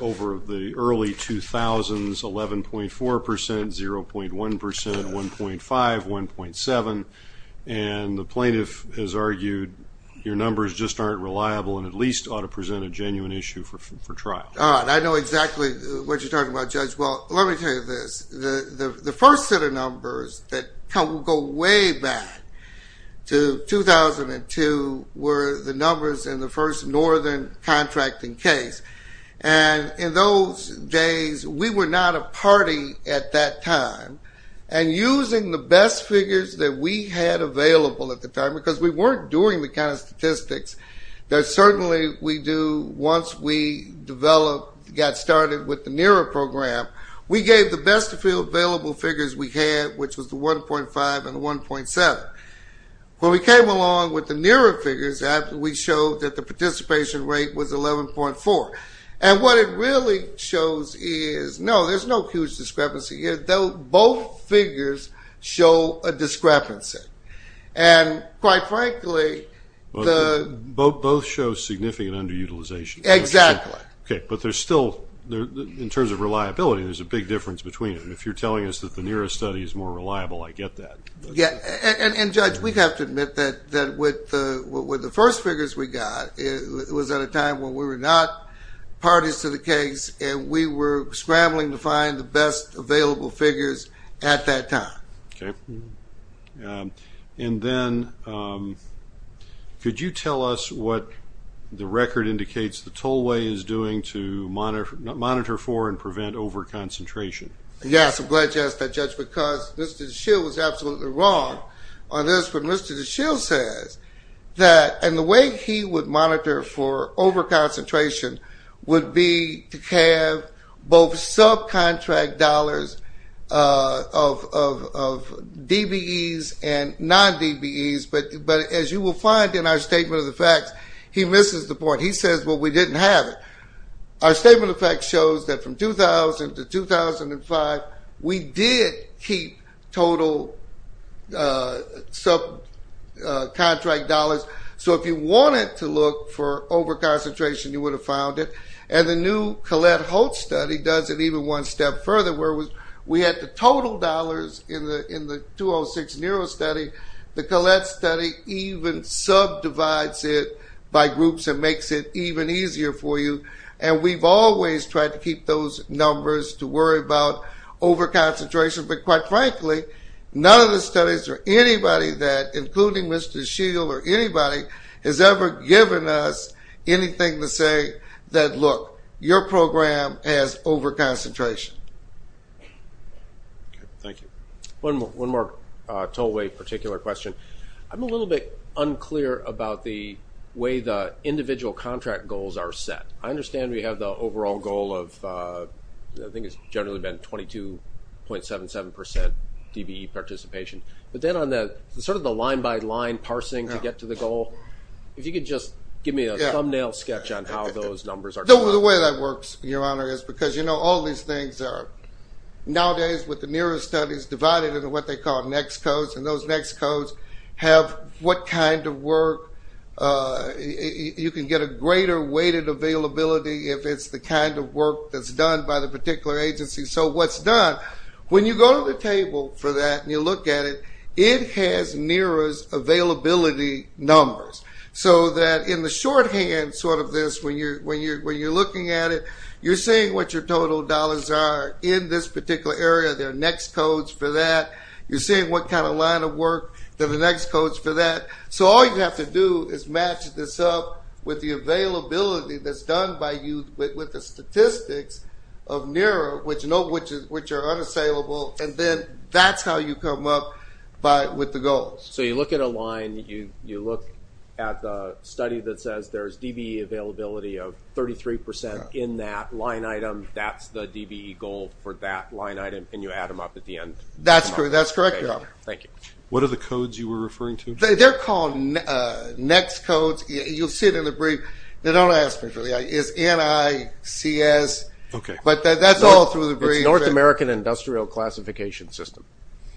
over the early 2000s, 11.4%, 0.1%, 1.5%, 1.7%. And the plaintiff has argued your numbers just aren't reliable and at least ought to present a genuine issue for trial. All right. I know exactly what you're talking about, Judge. Well, let me tell you this. The first set of numbers that go way back to 2002 were the numbers in the first northern contracting case. And in those days we were not a party at that time. And using the best figures that we had available at the time, because we weren't doing the kind of statistics that certainly we do once we got started with the NERA program, we gave the best available figures we had, which was the 1.5 and the 1.7. When we came along with the NERA figures, we showed that the participation rate was 11.4. And what it really shows is, no, there's no huge discrepancy. Both figures show a discrepancy. And quite frankly, the – Both show significant underutilization. Exactly. Okay. But there's still, in terms of reliability, there's a big difference between them. If you're telling us that the NERA study is more reliable, I get that. Yeah. And, Judge, we have to admit that with the first figures we got, it was at a time when we were not parties to the case and we were scrambling to find the best available figures at that time. Okay. And then, could you tell us what the record indicates the tollway is doing to monitor for and prevent overconcentration? Yes, I'm glad you asked that, Judge, because Mr. DeShield was absolutely wrong on this when Mr. DeShield said that – and the way he would monitor for overconcentration would be to have both subcontract dollars of DBEs and non-DBEs, but as you will find in our statement of the fact, he misses the point. He says, well, we didn't have it. Our statement of fact shows that from 2000 to 2005, we did keep total subcontract dollars. So if you wanted to look for overconcentration, you would have found it. And the new Collette-Holtz study does it even one step further, where we had the total dollars in the 2006 Neuro study. The Collette study even subdivides it by groups and makes it even easier for you, and we've always tried to keep those numbers to worry about overconcentration, but quite frankly, none of the studies or anybody that, including Mr. DeShield or anybody, has ever given us anything to say that, look, your program has overconcentration. Thank you. One more toll-weight particular question. I'm a little bit unclear about the way the individual contract goals are set. I understand we have the overall goal of, I think it's generally been 22.77% DBE participation, but then on sort of the line-by-line parsing to get to the goal, if you could just give me a thumbnail sketch on how those numbers are done. The way that works, Your Honor, is because, you know, all these things are nowadays with the Neuro studies divided into what they call next codes, and those next codes have what kind of work. You can get a greater weighted availability if it's the kind of work that's done by the particular agency. So what's done, when you go to the table for that and you look at it, it has NERA's availability numbers so that in the shorthand sort of this, when you're looking at it, you're seeing what your total dollars are in this particular area. There are next codes for that. You're seeing what kind of line of work. There are next codes for that. So all you have to do is match this up with the availability that's done by you with the statistics of NERA, which are unavailable, and then that's how you come up with the goals. So you look at a line, you look at the study that says there's DBE availability of 33% in that line item, that's the DBE goal for that line item, and you add them up at the end. That's correct, Your Honor. Thank you. What are the codes you were referring to? You'll see them in the brief. Don't ask me. It's N-I-C-S. Okay. But that's all through the brief. North American Industrial Classification System.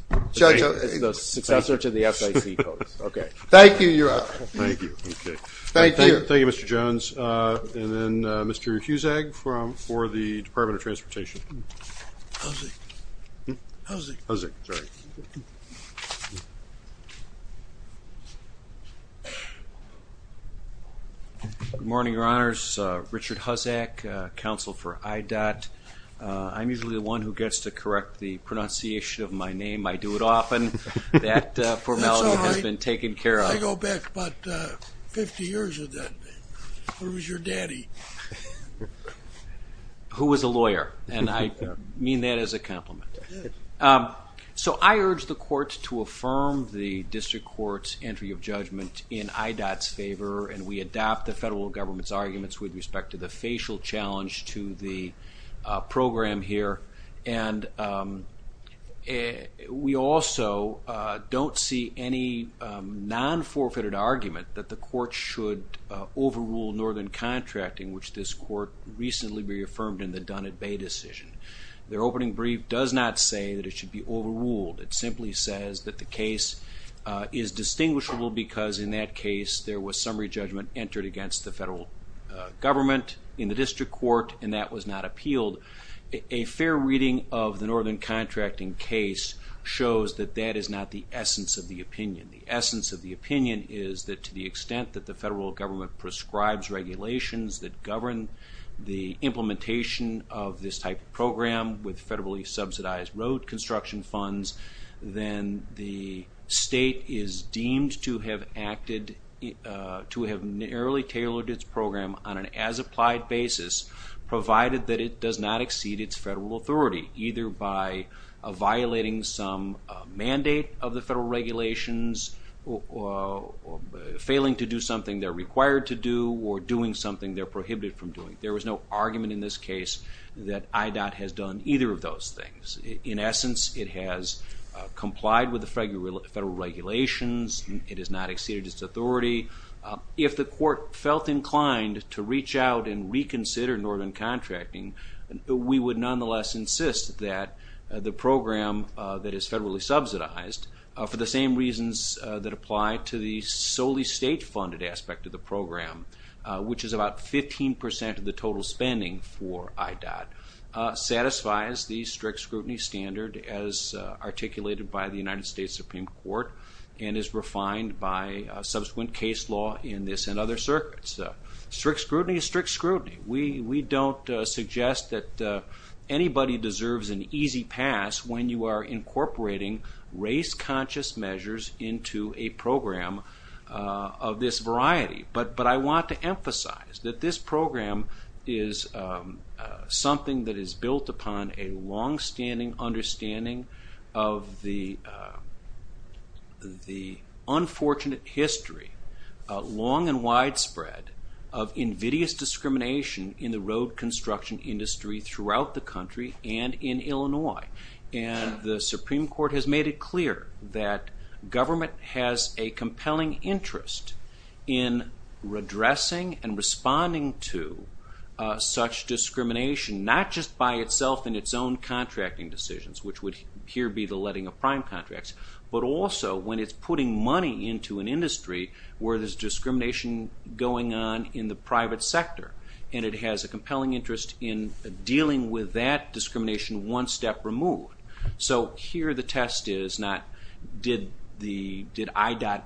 The successor to the S-I-T code. Okay. Thank you, Your Honor. Thank you. Thank you. Thank you, Mr. Jones. And then Mr. Huzag for the Department of Transportation. Huzag. Huzag. Huzag, sorry. Good morning, Your Honors. Richard Huzag, counsel for IDOT. I'm usually the one who gets to correct the pronunciation of my name. I do it often. That formality has been taken care of. That's all right. Where was your daddy? Who was a lawyer? And I mean that as a compliment. So I urge the courts to affirm the district court's entry of judgment in IDOT's favor, and we adopt the federal government's arguments with respect to the facial challenge to the program here. And we also don't see any non-forfeited argument that the court should overrule northern contracting, which this court recently reaffirmed in the Dunnett Bay decision. Their opening brief does not say that it should be overruled. It simply says that the case is distinguishable because in that case, there was summary judgment entered against the federal government in the district court, and that was not appealed. A fair reading of the northern contracting case shows that that is not the essence of the opinion. The essence of the opinion is that to the extent that the federal government prescribes regulations that govern the implementation of this type of program with federally subsidized road construction funds, then the state is deemed to have narrowly tailored its program on an as-applied basis, provided that it does not exceed its federal authority, either by violating some mandate of the federal regulations or failing to do something they're required to do or doing something they're prohibited from doing. There was no argument in this case that IDOT has done either of those things. In essence, it has complied with the federal regulations. It has not exceeded its authority. If the court felt inclined to reach out and reconsider northern contracting, we would nonetheless insist that the program that is federally subsidized, for the same reasons that apply to the solely state-funded aspect of the program, which is about 15% of the total spending for IDOT, satisfies the strict scrutiny standard as articulated by the United States Supreme Court and is refined by subsequent case law in this and other circuits. Strict scrutiny is strict scrutiny. We don't suggest that anybody deserves an easy pass when you are incorporating race-conscious measures into a program of this variety. But I want to emphasize that this program is something that is built upon a longstanding understanding of the road construction industry throughout the country and in Illinois. And the Supreme Court has made it clear that government has a compelling interest in redressing and responding to such discrimination, not just by itself in its own contracting decisions, which would here be the letting of prime contracts, but also when it's putting money into an industry where there's discrimination going on in the private sector. And it has a compelling interest in dealing with that discrimination one step removed. So here the test is not did IDOT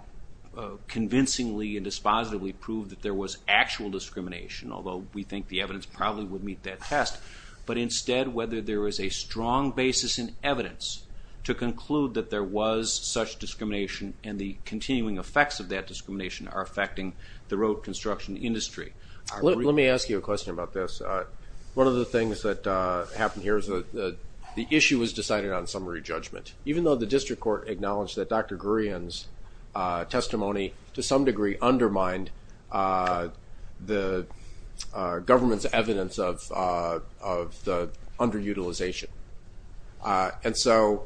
convincingly and dispositively prove that there was actual discrimination, although we think the evidence probably would meet that test, but instead whether there is a strong basis in evidence to conclude that there was such discrimination and the continuing effects of that discrimination are affecting the road construction industry. Let me ask you a question about this. One of the things that happened here is that the issue was decided on summary judgment, even though the district court acknowledged that Dr. Gurian's testimony to some degree undermined the government's evidence of the underutilization. And so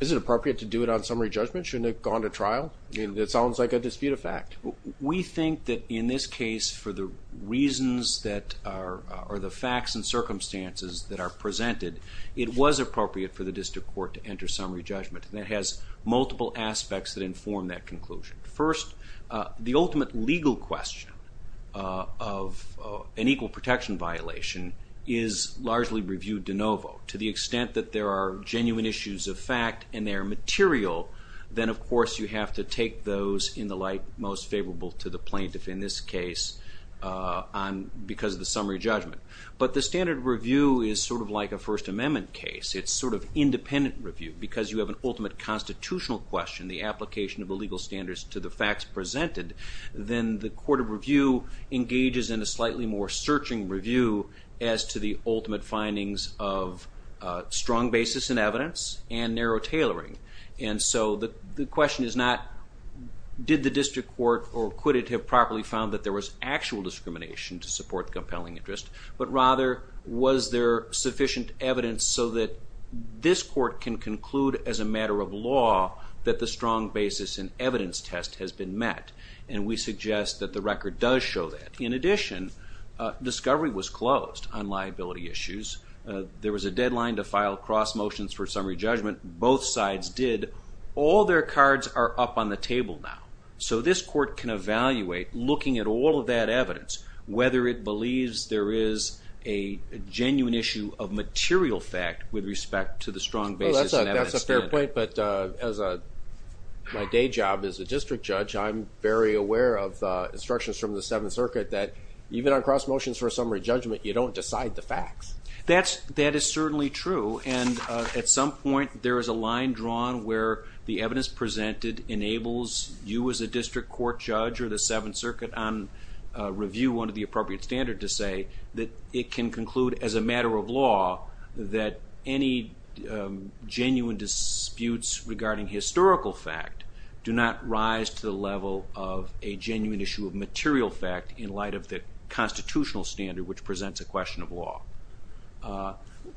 is it appropriate to do it on summary judgment? Shouldn't it have gone to trial? It sounds like a dispute of fact. We think that in this case for the reasons that are the facts and circumstances that are presented, it was appropriate for the district court to enter summary judgment. And it has multiple aspects that inform that conclusion. First, the ultimate legal question of an equal protection violation is largely reviewed de novo. To the extent that there are genuine issues of fact and they are material, then of course you have to take those in the light most favorable to the plaintiff in this case because of the summary judgment. But the standard review is sort of like a First Amendment case. It's sort of independent review because you have an ultimate constitutional question, the application of the legal standards to the facts presented. Then the court of review engages in a slightly more searching review as to the ultimate findings of strong basis in evidence and narrow tailoring. And so the question is not did the district court or could it have properly found that there was actual discrimination to support compelling interest, but rather was there sufficient evidence so that this court can conclude as a matter of law that the strong basis in evidence test has been met. And we suggest that the record does show that. In addition, discovery was closed on liability issues. There was a deadline to file cross motions for summary judgment. Both sides did. All their cards are up on the table now. So this court can evaluate, looking at all of that evidence, whether it believes there is a genuine issue of material fact with respect to the strong basis. That's a fair point, but as a day job as a district judge, which I'm very aware of instructions from the Seventh Circuit that even on cross motions for summary judgment, you don't decide the facts. That is certainly true. And at some point there is a line drawn where the evidence presented enables you as a district court judge or the Seventh Circuit on review one of the appropriate standards to say that it can conclude as a matter of law that any genuine disputes regarding historical fact do not rise to the level of a genuine issue of material fact in light of the constitutional standard which presents a question of law.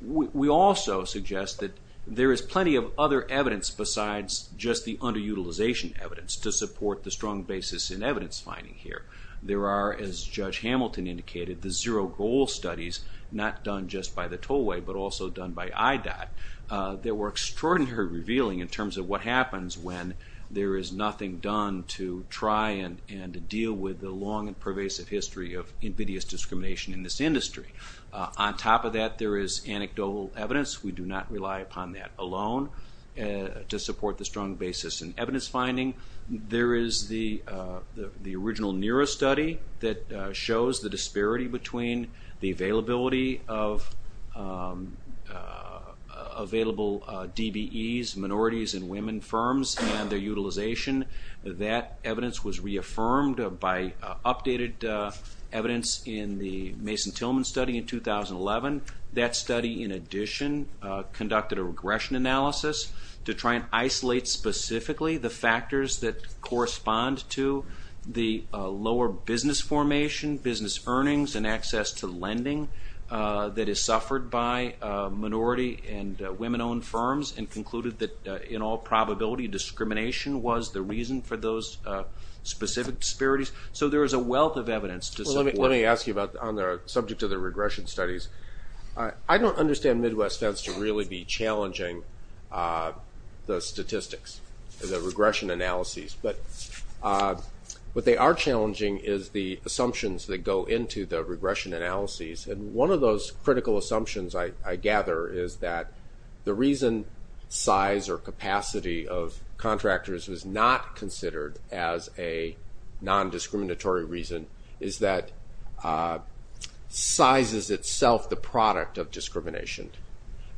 We also suggest that there is plenty of other evidence besides just the underutilization evidence to support the strong basis in evidence finding here. There are, as Judge Hamilton indicated, the zero goal studies not done just by the Tollway but also done by IDOT that were extraordinarily revealing in terms of what happens when there is nothing done to try and deal with the long and pervasive history of invidious discrimination in this industry. On top of that, there is anecdotal evidence. We do not rely upon that alone to support the strong basis in evidence finding. There is the original NERA study that shows the disparity between the availability of available DBEs, minorities and women firms and their utilization. That evidence was reaffirmed by updated evidence in the Mason-Tillman study in 2011. That study, in addition, conducted a regression analysis to try and isolate specifically the factors that correspond to the lower business formation, business earnings and access to lending that is suffered by minority and women-owned firms and concluded that in all probability discrimination was the reason for those specific disparities. So there is a wealth of evidence to support. Let me ask you about on the subject of the regression studies. I don't understand Midwest's sense to really be challenging the statistics, the regression analyses. But what they are challenging is the assumptions that go into the regression analyses. And one of those critical assumptions I gather is that the reason size or capacity of contractors is not considered as a nondiscriminatory reason is that size is itself the product of discrimination.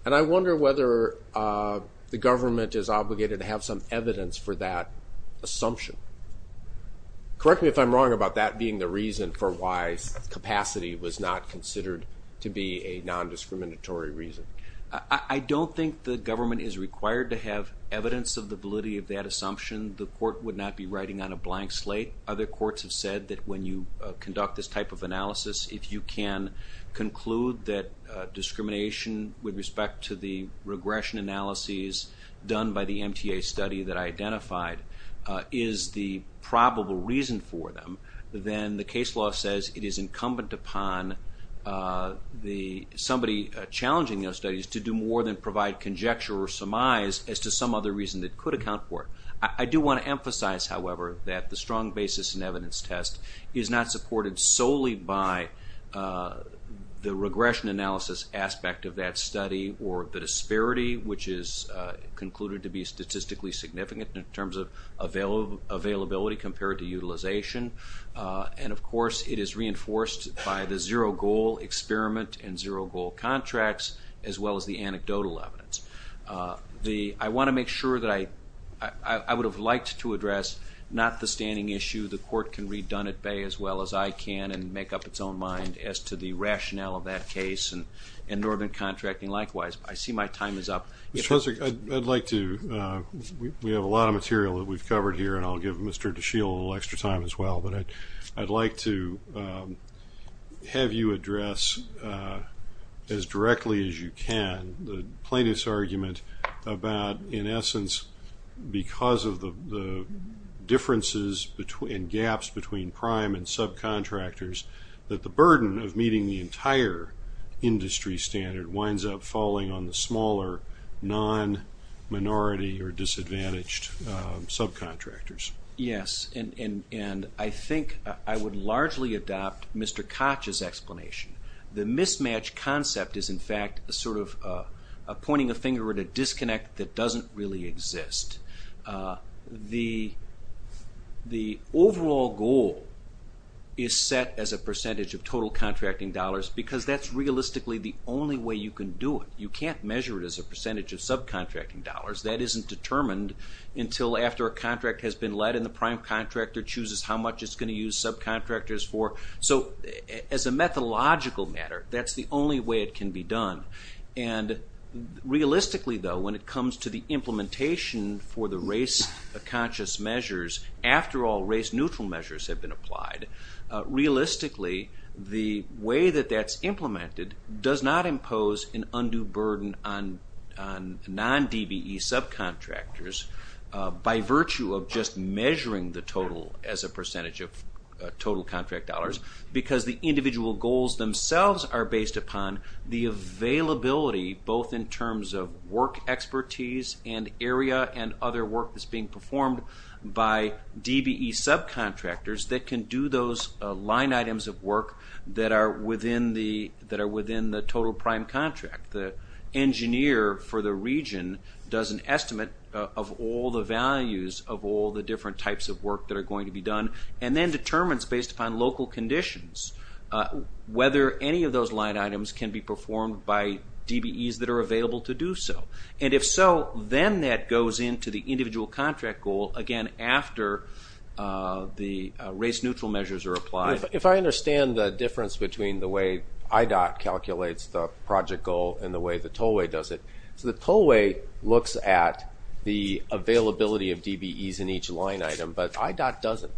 And I wonder whether the government is obligated to have some evidence for that assumption. Correct me if I'm wrong about that being the reason for why capacity was not considered to be a nondiscriminatory reason. I don't think the government is required to have evidence of the validity of that assumption. The court would not be writing on a blank slate. Other courts have said that when you conduct this type of analysis, if you can conclude that discrimination with respect to the regression analyses done by the MTA study that I identified is the probable reason for them, then the case law says it is incumbent upon somebody challenging those studies to do more than provide conjecture or surmise as to some other reason that could account for it. I do want to emphasize, however, that the strong basis in evidence test is not supported solely by the regression analysis aspect of that study or the disparity, which is concluded to be statistically significant in terms of availability compared to utilization. And, of course, it is reinforced by the zero-goal experiment and zero-goal contracts as well as the anecdotal evidence. I want to make sure that I would have liked to address not the standing issue. The court can read Dunn at Bay as well as I can and make up its own mind as to the rationale of that case and Northern Contracting likewise. I see my time is up. Mr. Husserl, we have a lot of material that we've covered here, and I'll give Mr. DeShiel a little extra time as well, but I'd like to have you address as directly as you can the plaintiff's argument about, in essence, because of the differences and gaps between prime and subcontractors, that the burden of meeting the entire industry standard winds up falling on the smaller non-minority or disadvantaged subcontractors. Yes, and I think I would largely adopt Mr. Koch's explanation. The mismatch concept is, in fact, sort of pointing a finger at a disconnect that doesn't really exist. The overall goal is set as a percentage of total contracting dollars because that's realistically the only way you can do it. You can't measure it as a percentage of subcontracting dollars. That isn't determined until after a contract has been led and the prime contractor chooses how much it's going to use subcontractors for. So, as a methodological matter, that's the only way it can be done. And realistically, though, when it comes to the implementation for the race-conscious measures, after all race-neutral measures have been applied, realistically, the way that that's implemented does not impose an undue burden on non-DBE subcontractors by virtue of just measuring the total as a percentage of total contract dollars because the individual goals themselves are based upon the availability, both in terms of work expertise and area and other work that's being performed by DBE subcontractors that can do those line items of work that are within the total prime contract. The engineer for the region does an estimate of all the values of all the different types of work that are going to be done and then determines based upon local conditions whether any of those line items can be performed by DBEs that are available to do so. And if so, then that goes into the individual contract goal again after the race-neutral measures are applied. If I understand the difference between the way IDOT calculates the project goal and the way the Tollway does it, so the Tollway looks at the availability of DBEs in each line item, but IDOT doesn't.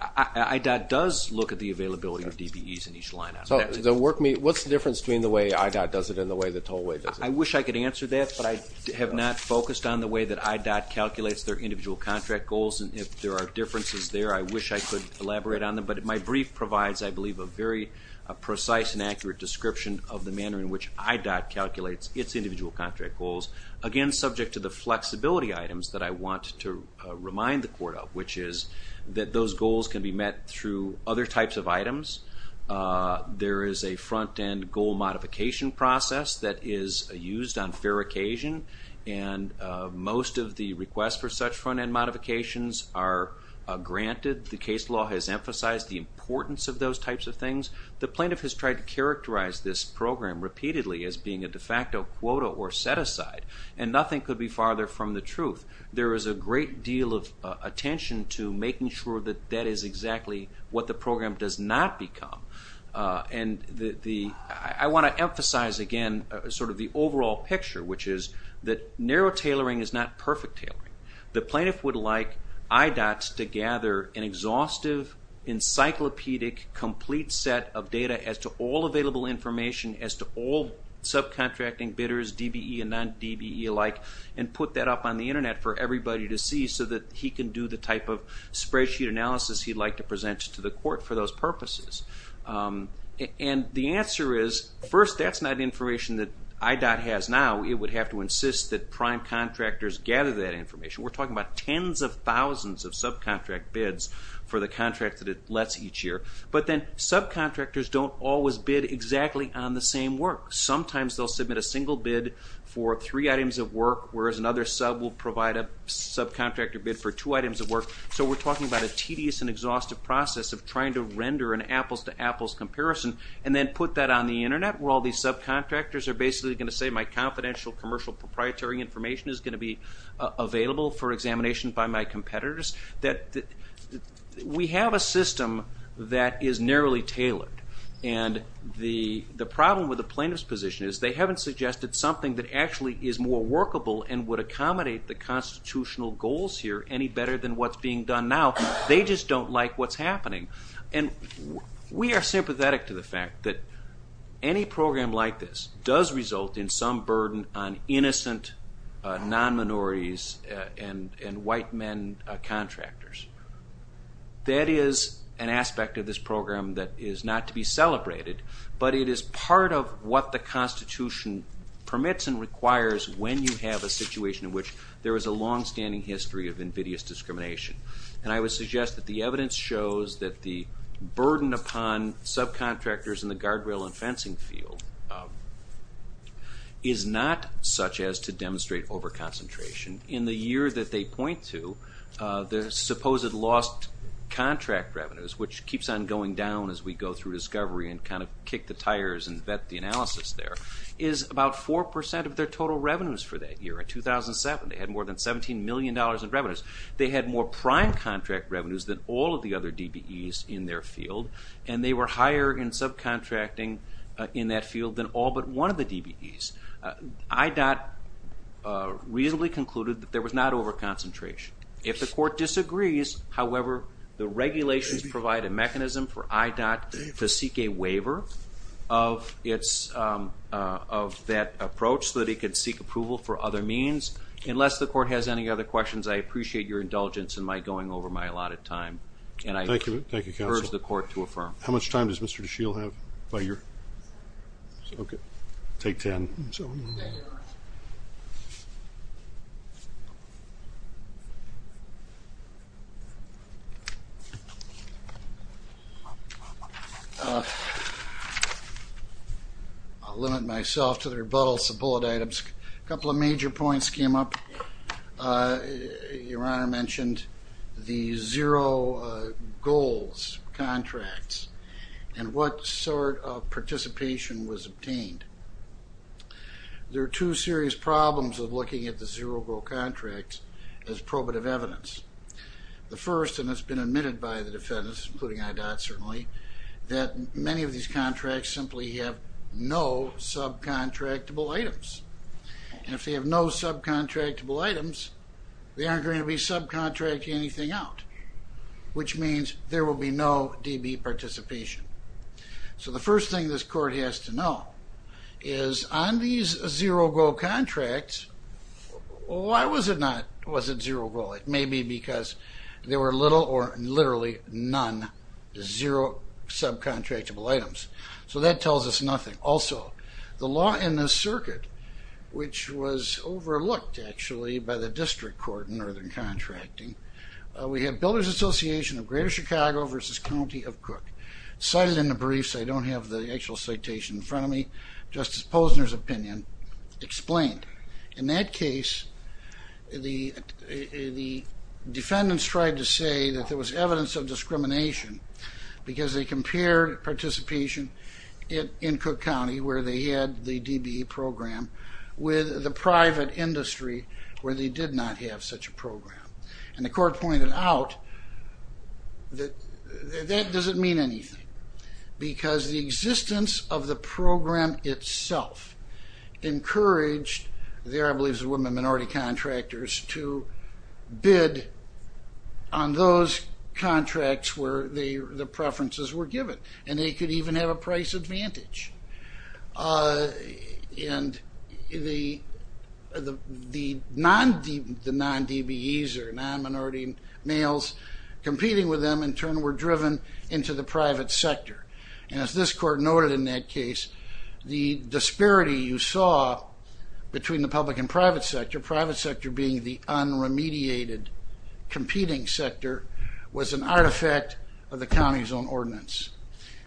IDOT does look at the availability of DBEs in each line item. What's the difference between the way IDOT does it and the way the Tollway does it? I wish I could answer that, but I have not focused on the way that IDOT calculates their individual contract goals, and if there are differences there, I wish I could elaborate on them. But my brief provides, I believe, a very precise and accurate description of the manner in which IDOT calculates its individual contract goals, again subject to the flexibility items that I want to remind the Court of, which is that those goals can be met through other types of items. There is a front-end goal modification process that is used on fair occasion, and most of the requests for such front-end modifications are granted. The case law has emphasized the importance of those types of things. The plaintiff has tried to characterize this program repeatedly as being a de facto quota or set-aside, and nothing could be farther from the truth. There is a great deal of attention to making sure that that is exactly what the program does not become, and I want to emphasize again sort of the overall picture, which is that narrow tailoring is not perfect tailoring. The plaintiff would like IDOT to gather an exhaustive, encyclopedic, complete set of data as to all available information, as to all subcontracting bidders, DBE and non-DBE alike, and put that up on the Internet for everybody to see so that he can do the type of spreadsheet analysis he'd like to present to the Court for those purposes. And the answer is, first, that's not information that IDOT has now. It would have to insist that prime contractors gather that information. We're talking about tens of thousands of subcontract bids for the contract that it lets each year. But then subcontractors don't always bid exactly on the same work. Sometimes they'll submit a single bid for three items of work, whereas another sub will provide a subcontractor bid for two items of work. So we're talking about a tedious and exhaustive process of trying to render an apples-to-apples comparison and then put that on the Internet, where all these subcontractors are basically going to say, my confidential commercial proprietary information is going to be available for examination by my competitors. We have a system that is narrowly tailored. And the problem with the plaintiff's position is they haven't suggested something that actually is more workable and would accommodate the constitutional goals here any better than what's being done now. They just don't like what's happening. And we are sympathetic to the fact that any program like this does result in some burden on innocent non-minorities and white men contractors. That is an aspect of this program that is not to be celebrated, but it is part of what the Constitution permits and requires when you have a situation in which there is a longstanding history of invidious discrimination. And I would suggest that the evidence shows that the burden upon subcontractors in the guardrail and fencing field is not such as to demonstrate overconcentration. In the year that they point to, the supposed lost contract revenues, which keeps on going down as we go through discovery and kind of kick the tires and vet the analysis there, is about 4% of their total revenues for that year. In 2007, they had more than $17 million in revenues. They had more prime contract revenues than all of the other DBEs in their field, and they were higher in subcontracting in that field than all but one of the DBEs. IDOT reasonably concluded that there was not overconcentration. If the court disagrees, however, the regulations provide a mechanism for IDOT to seek a waiver of that approach so that it could seek approval for other means. Unless the court has any other questions, I appreciate your indulgence in my going over my allotted time. Thank you, counsel. And I urge the court to affirm. How much time does Mr. DeShiel have by your? Okay. Take 10. I'll limit myself to the rebuttal. Some bullet items. A couple of major points came up. Your Honor mentioned the zero-goals contracts and what sort of participation was obtained. There are two serious problems of looking at the zero-goal contracts as probative evidence. The first, and it's been admitted by the defendants, including IDOT certainly, that many of these contracts simply have no subcontractable items. And if they have no subcontractable items, they aren't going to be subcontracting anything out, which means there will be no DB participation. So the first thing this court has to know is on these zero-goal contracts, why was it not zero-goal? It may be because there were little or literally none, zero subcontractable items. So that tells us nothing. Also, the law in this circuit, which was overlooked actually by the district court in Northern Contracting, we have Builders Association of Greater Chicago versus County of Cook. Cited in the briefs. I don't have the actual citation in front of me. Justice Posner's opinion explained. In that case, the defendants tried to say that there was evidence of discrimination because they compared participation in Cook County where they had the DBE program with the private industry where they did not have such a program. And the court pointed out that that doesn't mean anything because the existence of the program itself encouraged, the Arab League of Women Minority Contractors, to bid on those contracts where the preferences were given. And they could even have a price advantage. And the non-DBEs or non-minority males competing with them in turn were driven into the private sector. And as this court noted in that case, the disparity you saw between the public and private sector, private sector being the un-remediated competing sector, was an artifact of the county's own ordinance.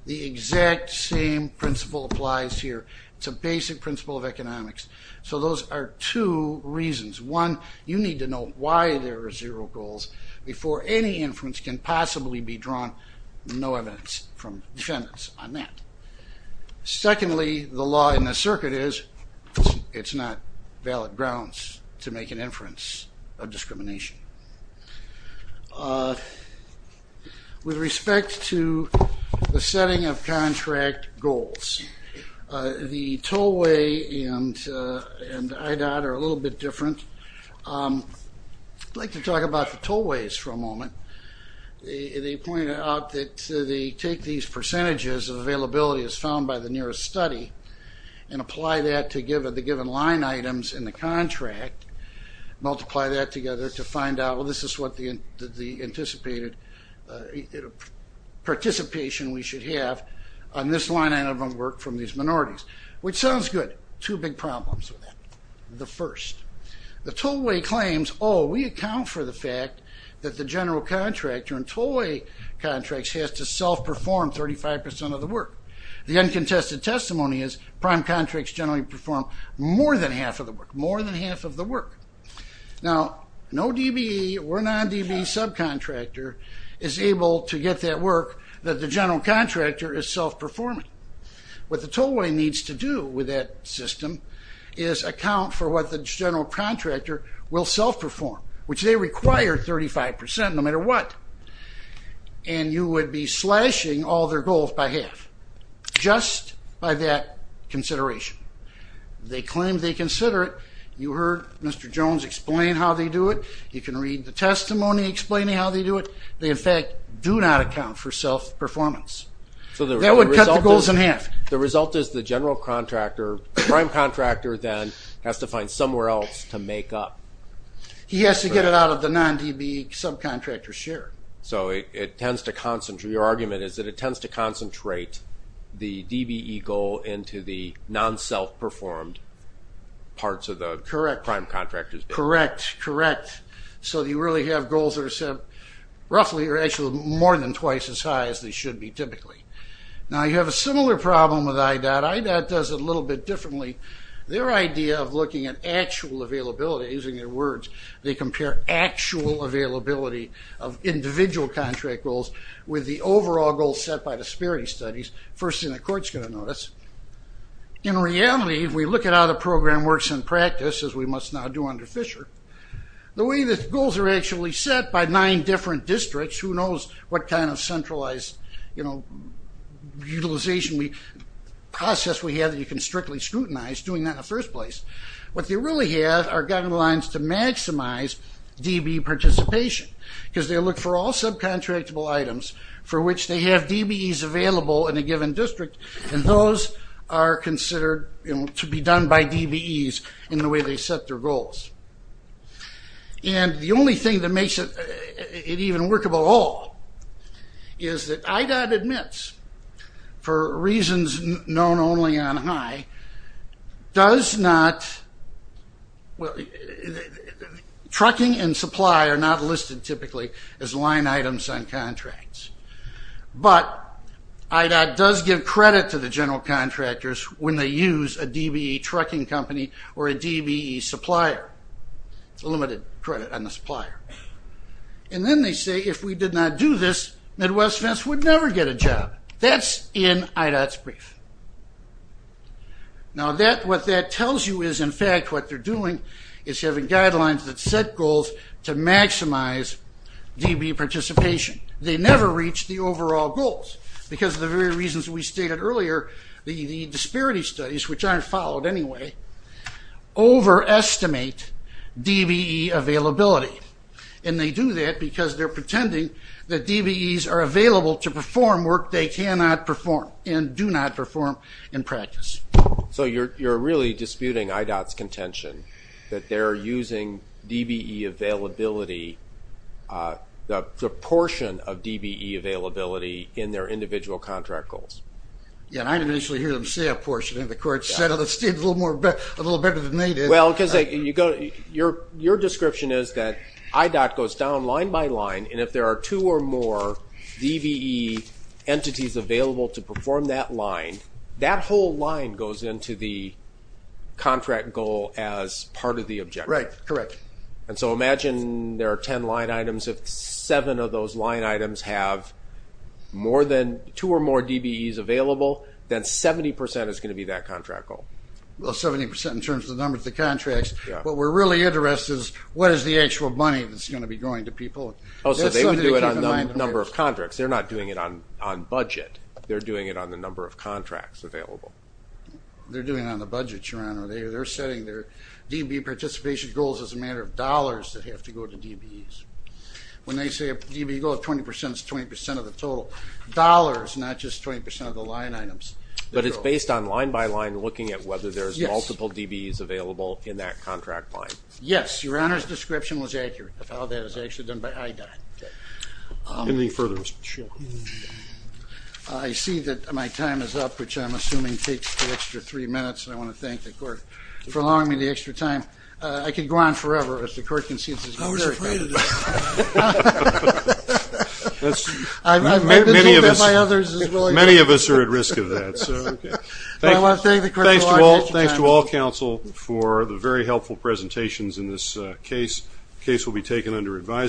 The exact same principle applies here. It's a basic principle of economics. So those are two reasons. One, you need to know why there are zero goals before any inference can possibly be drawn. No evidence from defendants on that. Secondly, the law in the circuit is, it's not valid grounds to make an inference of discrimination. With respect to the setting of contract goals, the tollway and IDOT are a little bit different. I'd like to talk about the tollways for a moment. They point out that they take these percentages of availability as found by the nearest study and apply that to the given line items in the contract, multiply that together to find out, well, this is what the anticipated participation we should have on this line item of work from these minorities. Which sounds good. Two big problems with that. The first, the tollway claims, oh, we account for the fact that the general contractor in tollway contracts has to self-perform 35% of the work. The uncontested testimony is prime contracts generally perform more than half of the work. More than half of the work. Now, no DBE or non-DBE subcontractor is able to get that work that the general contractor is self-performing. What the tollway needs to do with that system is account for what the general contractor will self-perform, which they require 35% no matter what. And you would be slashing all their goals by half just by that consideration. They claim they consider it. You heard Mr. Jones explain how they do it. You can read the testimony explaining how they do it. They, in fact, do not account for self-performance. That would cut the goals in half. The result is the general contractor, prime contractor, then has to find somewhere else to make up. He has to get it out of the non-DBE subcontractor's share. So it tends to concentrate. Your argument is that it tends to concentrate the DBE goal into the non-self-performed parts of the prime contractor's share. Correct, correct. So you really have goals that are roughly or actually more than twice as high as they should be typically. Now, you have a similar problem with IDOT. IDOT does it a little bit differently. Their idea of looking at actual availability, using their words, they compare actual availability of individual contract goals with the overall goals set by the SPIRI studies. First thing the court's going to notice. In reality, if we look at how the program works in practice, as we must now do under Fisher, the way that goals are actually set by nine different districts, who knows what kind of centralized utilization process we have that you can strictly scrutinize doing that in the first place. What they really have are guidelines to maximize DBE participation because they look for all subcontractable items for which they have DBEs available in a given district, and those are considered to be done by DBEs in the way they set their goals. And the only thing that makes it even workable at all is that IDOT admits for reasons known only on high, does not, trucking and supply are not listed typically as line items on contracts, but IDOT does give credit to the general contractors when they use a DBE trucking company or a DBE supplier. It's a limited credit on the supplier. And then they say, if we did not do this, Midwest-West would never get a job. That's in IDOT's brief. Now, what that tells you is, in fact, what they're doing is having guidelines that set goals to maximize DBE participation. They never reach the overall goals because of the very reasons we stated earlier, the disparity studies, which aren't followed anyway, overestimate DBE availability. And they do that because they're pretending that DBEs are available to perform work they cannot perform and do not perform in practice. So you're really disputing IDOT's contention that they're using DBE availability, the proportion of DBE availability in their individual contract goals. Yeah, I didn't initially hear them say that portion of it. The court said it a little better than they did. Well, because your description is that IDOT goes down line by line, and if there are two or more DBE entities available to perform that line, that whole line goes into the contract goal as part of the objective. Right, correct. And so imagine there are 10 line items. If seven of those line items have two or more DBEs available, then 70% is going to be that contract goal. Well, 70% in terms of the number of the contracts. What we're really interested in is what is the actual money that's going to be going to people? Oh, so they would do it on the number of contracts. They're not doing it on budget. They're doing it on the number of contracts available. They're doing it on the budget, Sharon. They're setting their DBE participation goals as a matter of dollars that have to go to DBEs. When they say a DBE goal, 20% is 20% of the total. Dollars, not just 20% of the line items. But it's based on line by line looking at whether there's multiple DBEs available in that contract line. Yes. Your Honor's description was accurate about how that is actually done by IDOT. Anything further? Sure. I see that my time is up, which I'm assuming takes an extra three minutes, and I want to thank the court for allowing me the extra time. I could go on forever, as the court concedes there's no extra time. I'm afraid of this. Many of us are at risk of that. So, okay. I want to thank the court for allowing me the extra time. Thanks to all counsel for the very helpful presentations in this case. The case will be taken under advisory.